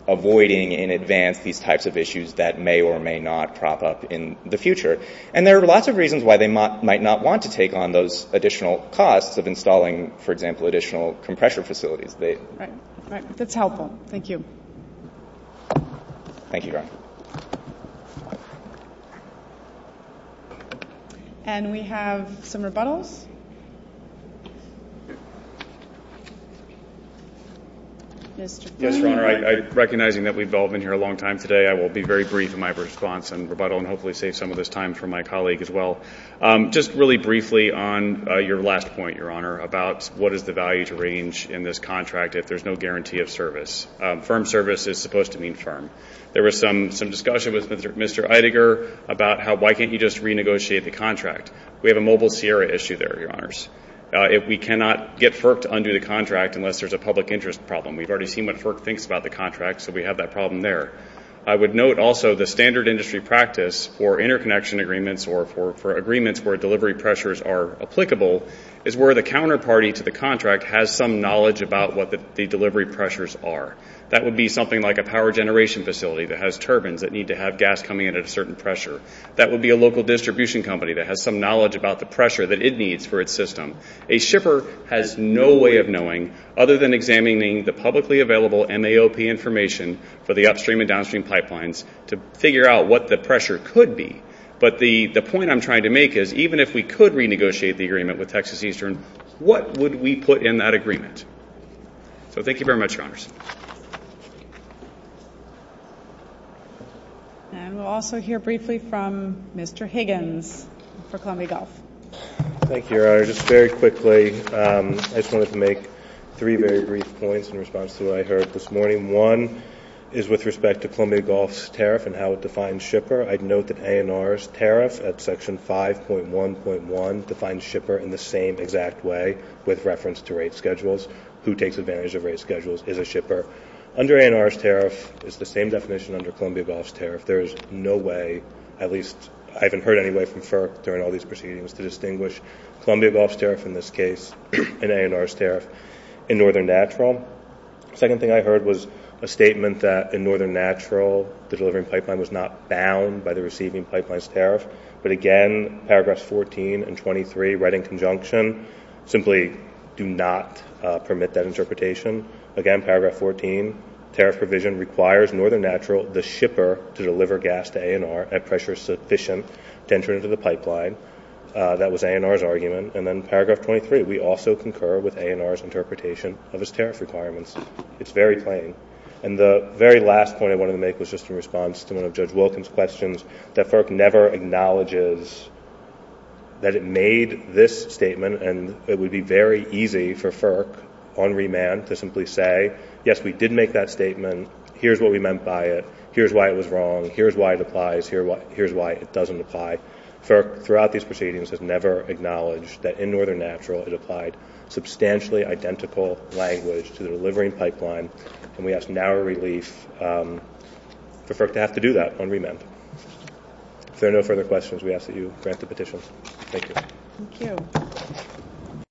avoiding in advance these types of issues that may or may not crop up in the future. And there are lots of reasons why they might not want to take on those additional costs of installing, for example, additional compressor facilities. That's helpful. Thank you. Thank you. Okay. And we have some rebuttals. Recognizing that we've all been here a long time today, I will be very brief in my response and rebuttal and hopefully save some of this time for my colleague as well. Just really briefly on your last point, Your Honor, about what is the value to range in this contract if there's no guarantee of some discussion with Mr. Eidegger about how, why can't you just renegotiate the contract? We have a mobile Sierra issue there, Your Honors. If we cannot get FERC to undo the contract, unless there's a public interest problem, we've already seen what FERC thinks about the contract. So we have that problem there. I would note also the standard industry practice for interconnection agreements or for agreements where delivery pressures are applicable is where the counterparty to the contract has some knowledge about what the delivery pressures are. That would be something like a power generation facility that has turbines that need to have gas coming in at a certain pressure. That would be a local distribution company that has some knowledge about the pressure that it needs for its system. A shipper has no way of knowing, other than examining the publicly available NAOP information for the upstream and downstream pipelines to figure out what the pressure could be. But the point I'm trying to make is even if we could renegotiate the agreement with Texas Eastern, what would we put in that agreement? So thank you very much, Your Honors. And we'll also hear briefly from Mr. Higgins for Columbia Gulf. Thank you, Your Honor. Just very quickly, I just wanted to make three very brief points in response to what I heard this morning. One is with respect to Columbia Gulf's tariff and how it defines shipper. I'd note that A&R's tariff at Section 5.1.1 defines shipper in the same exact way with reference to rate schedules. Who takes advantage of rate schedules is a shipper. Under A&R's tariff, it's the same definition under Columbia Gulf's tariff. There is no way, at least I haven't heard anyway from FERC during all these proceedings, to distinguish Columbia Gulf's tariff in this case and A&R's tariff in Northern Natural. The second thing I heard was a statement that in Northern Natural, the delivery pipeline was not bound by the receiving pipeline's tariff. But again, Paragraphs 14 and 23, right in conjunction, simply do not permit that interpretation. Again, Paragraph 14, tariff provision requires Northern Natural, the shipper to deliver gas to A&R at pressure sufficient to enter into the pipeline. That was A&R's argument. And then Paragraph 23, we also concur with A&R's interpretation of its tariff requirements. It's very plain. And the very last point I wanted to make was just in response to one of Judge O'Donnell's acknowledges that it made this statement, and it would be very easy for FERC on remand to simply say, yes, we did make that statement, here's what we meant by it, here's why it was wrong, here's why it applies, here's why it doesn't apply. FERC, throughout these proceedings, has never acknowledged that in Northern Natural it applied substantially identical language to the delivering pipeline, If there are no further questions, we ask that you grant the petition. Thank you. Thank you.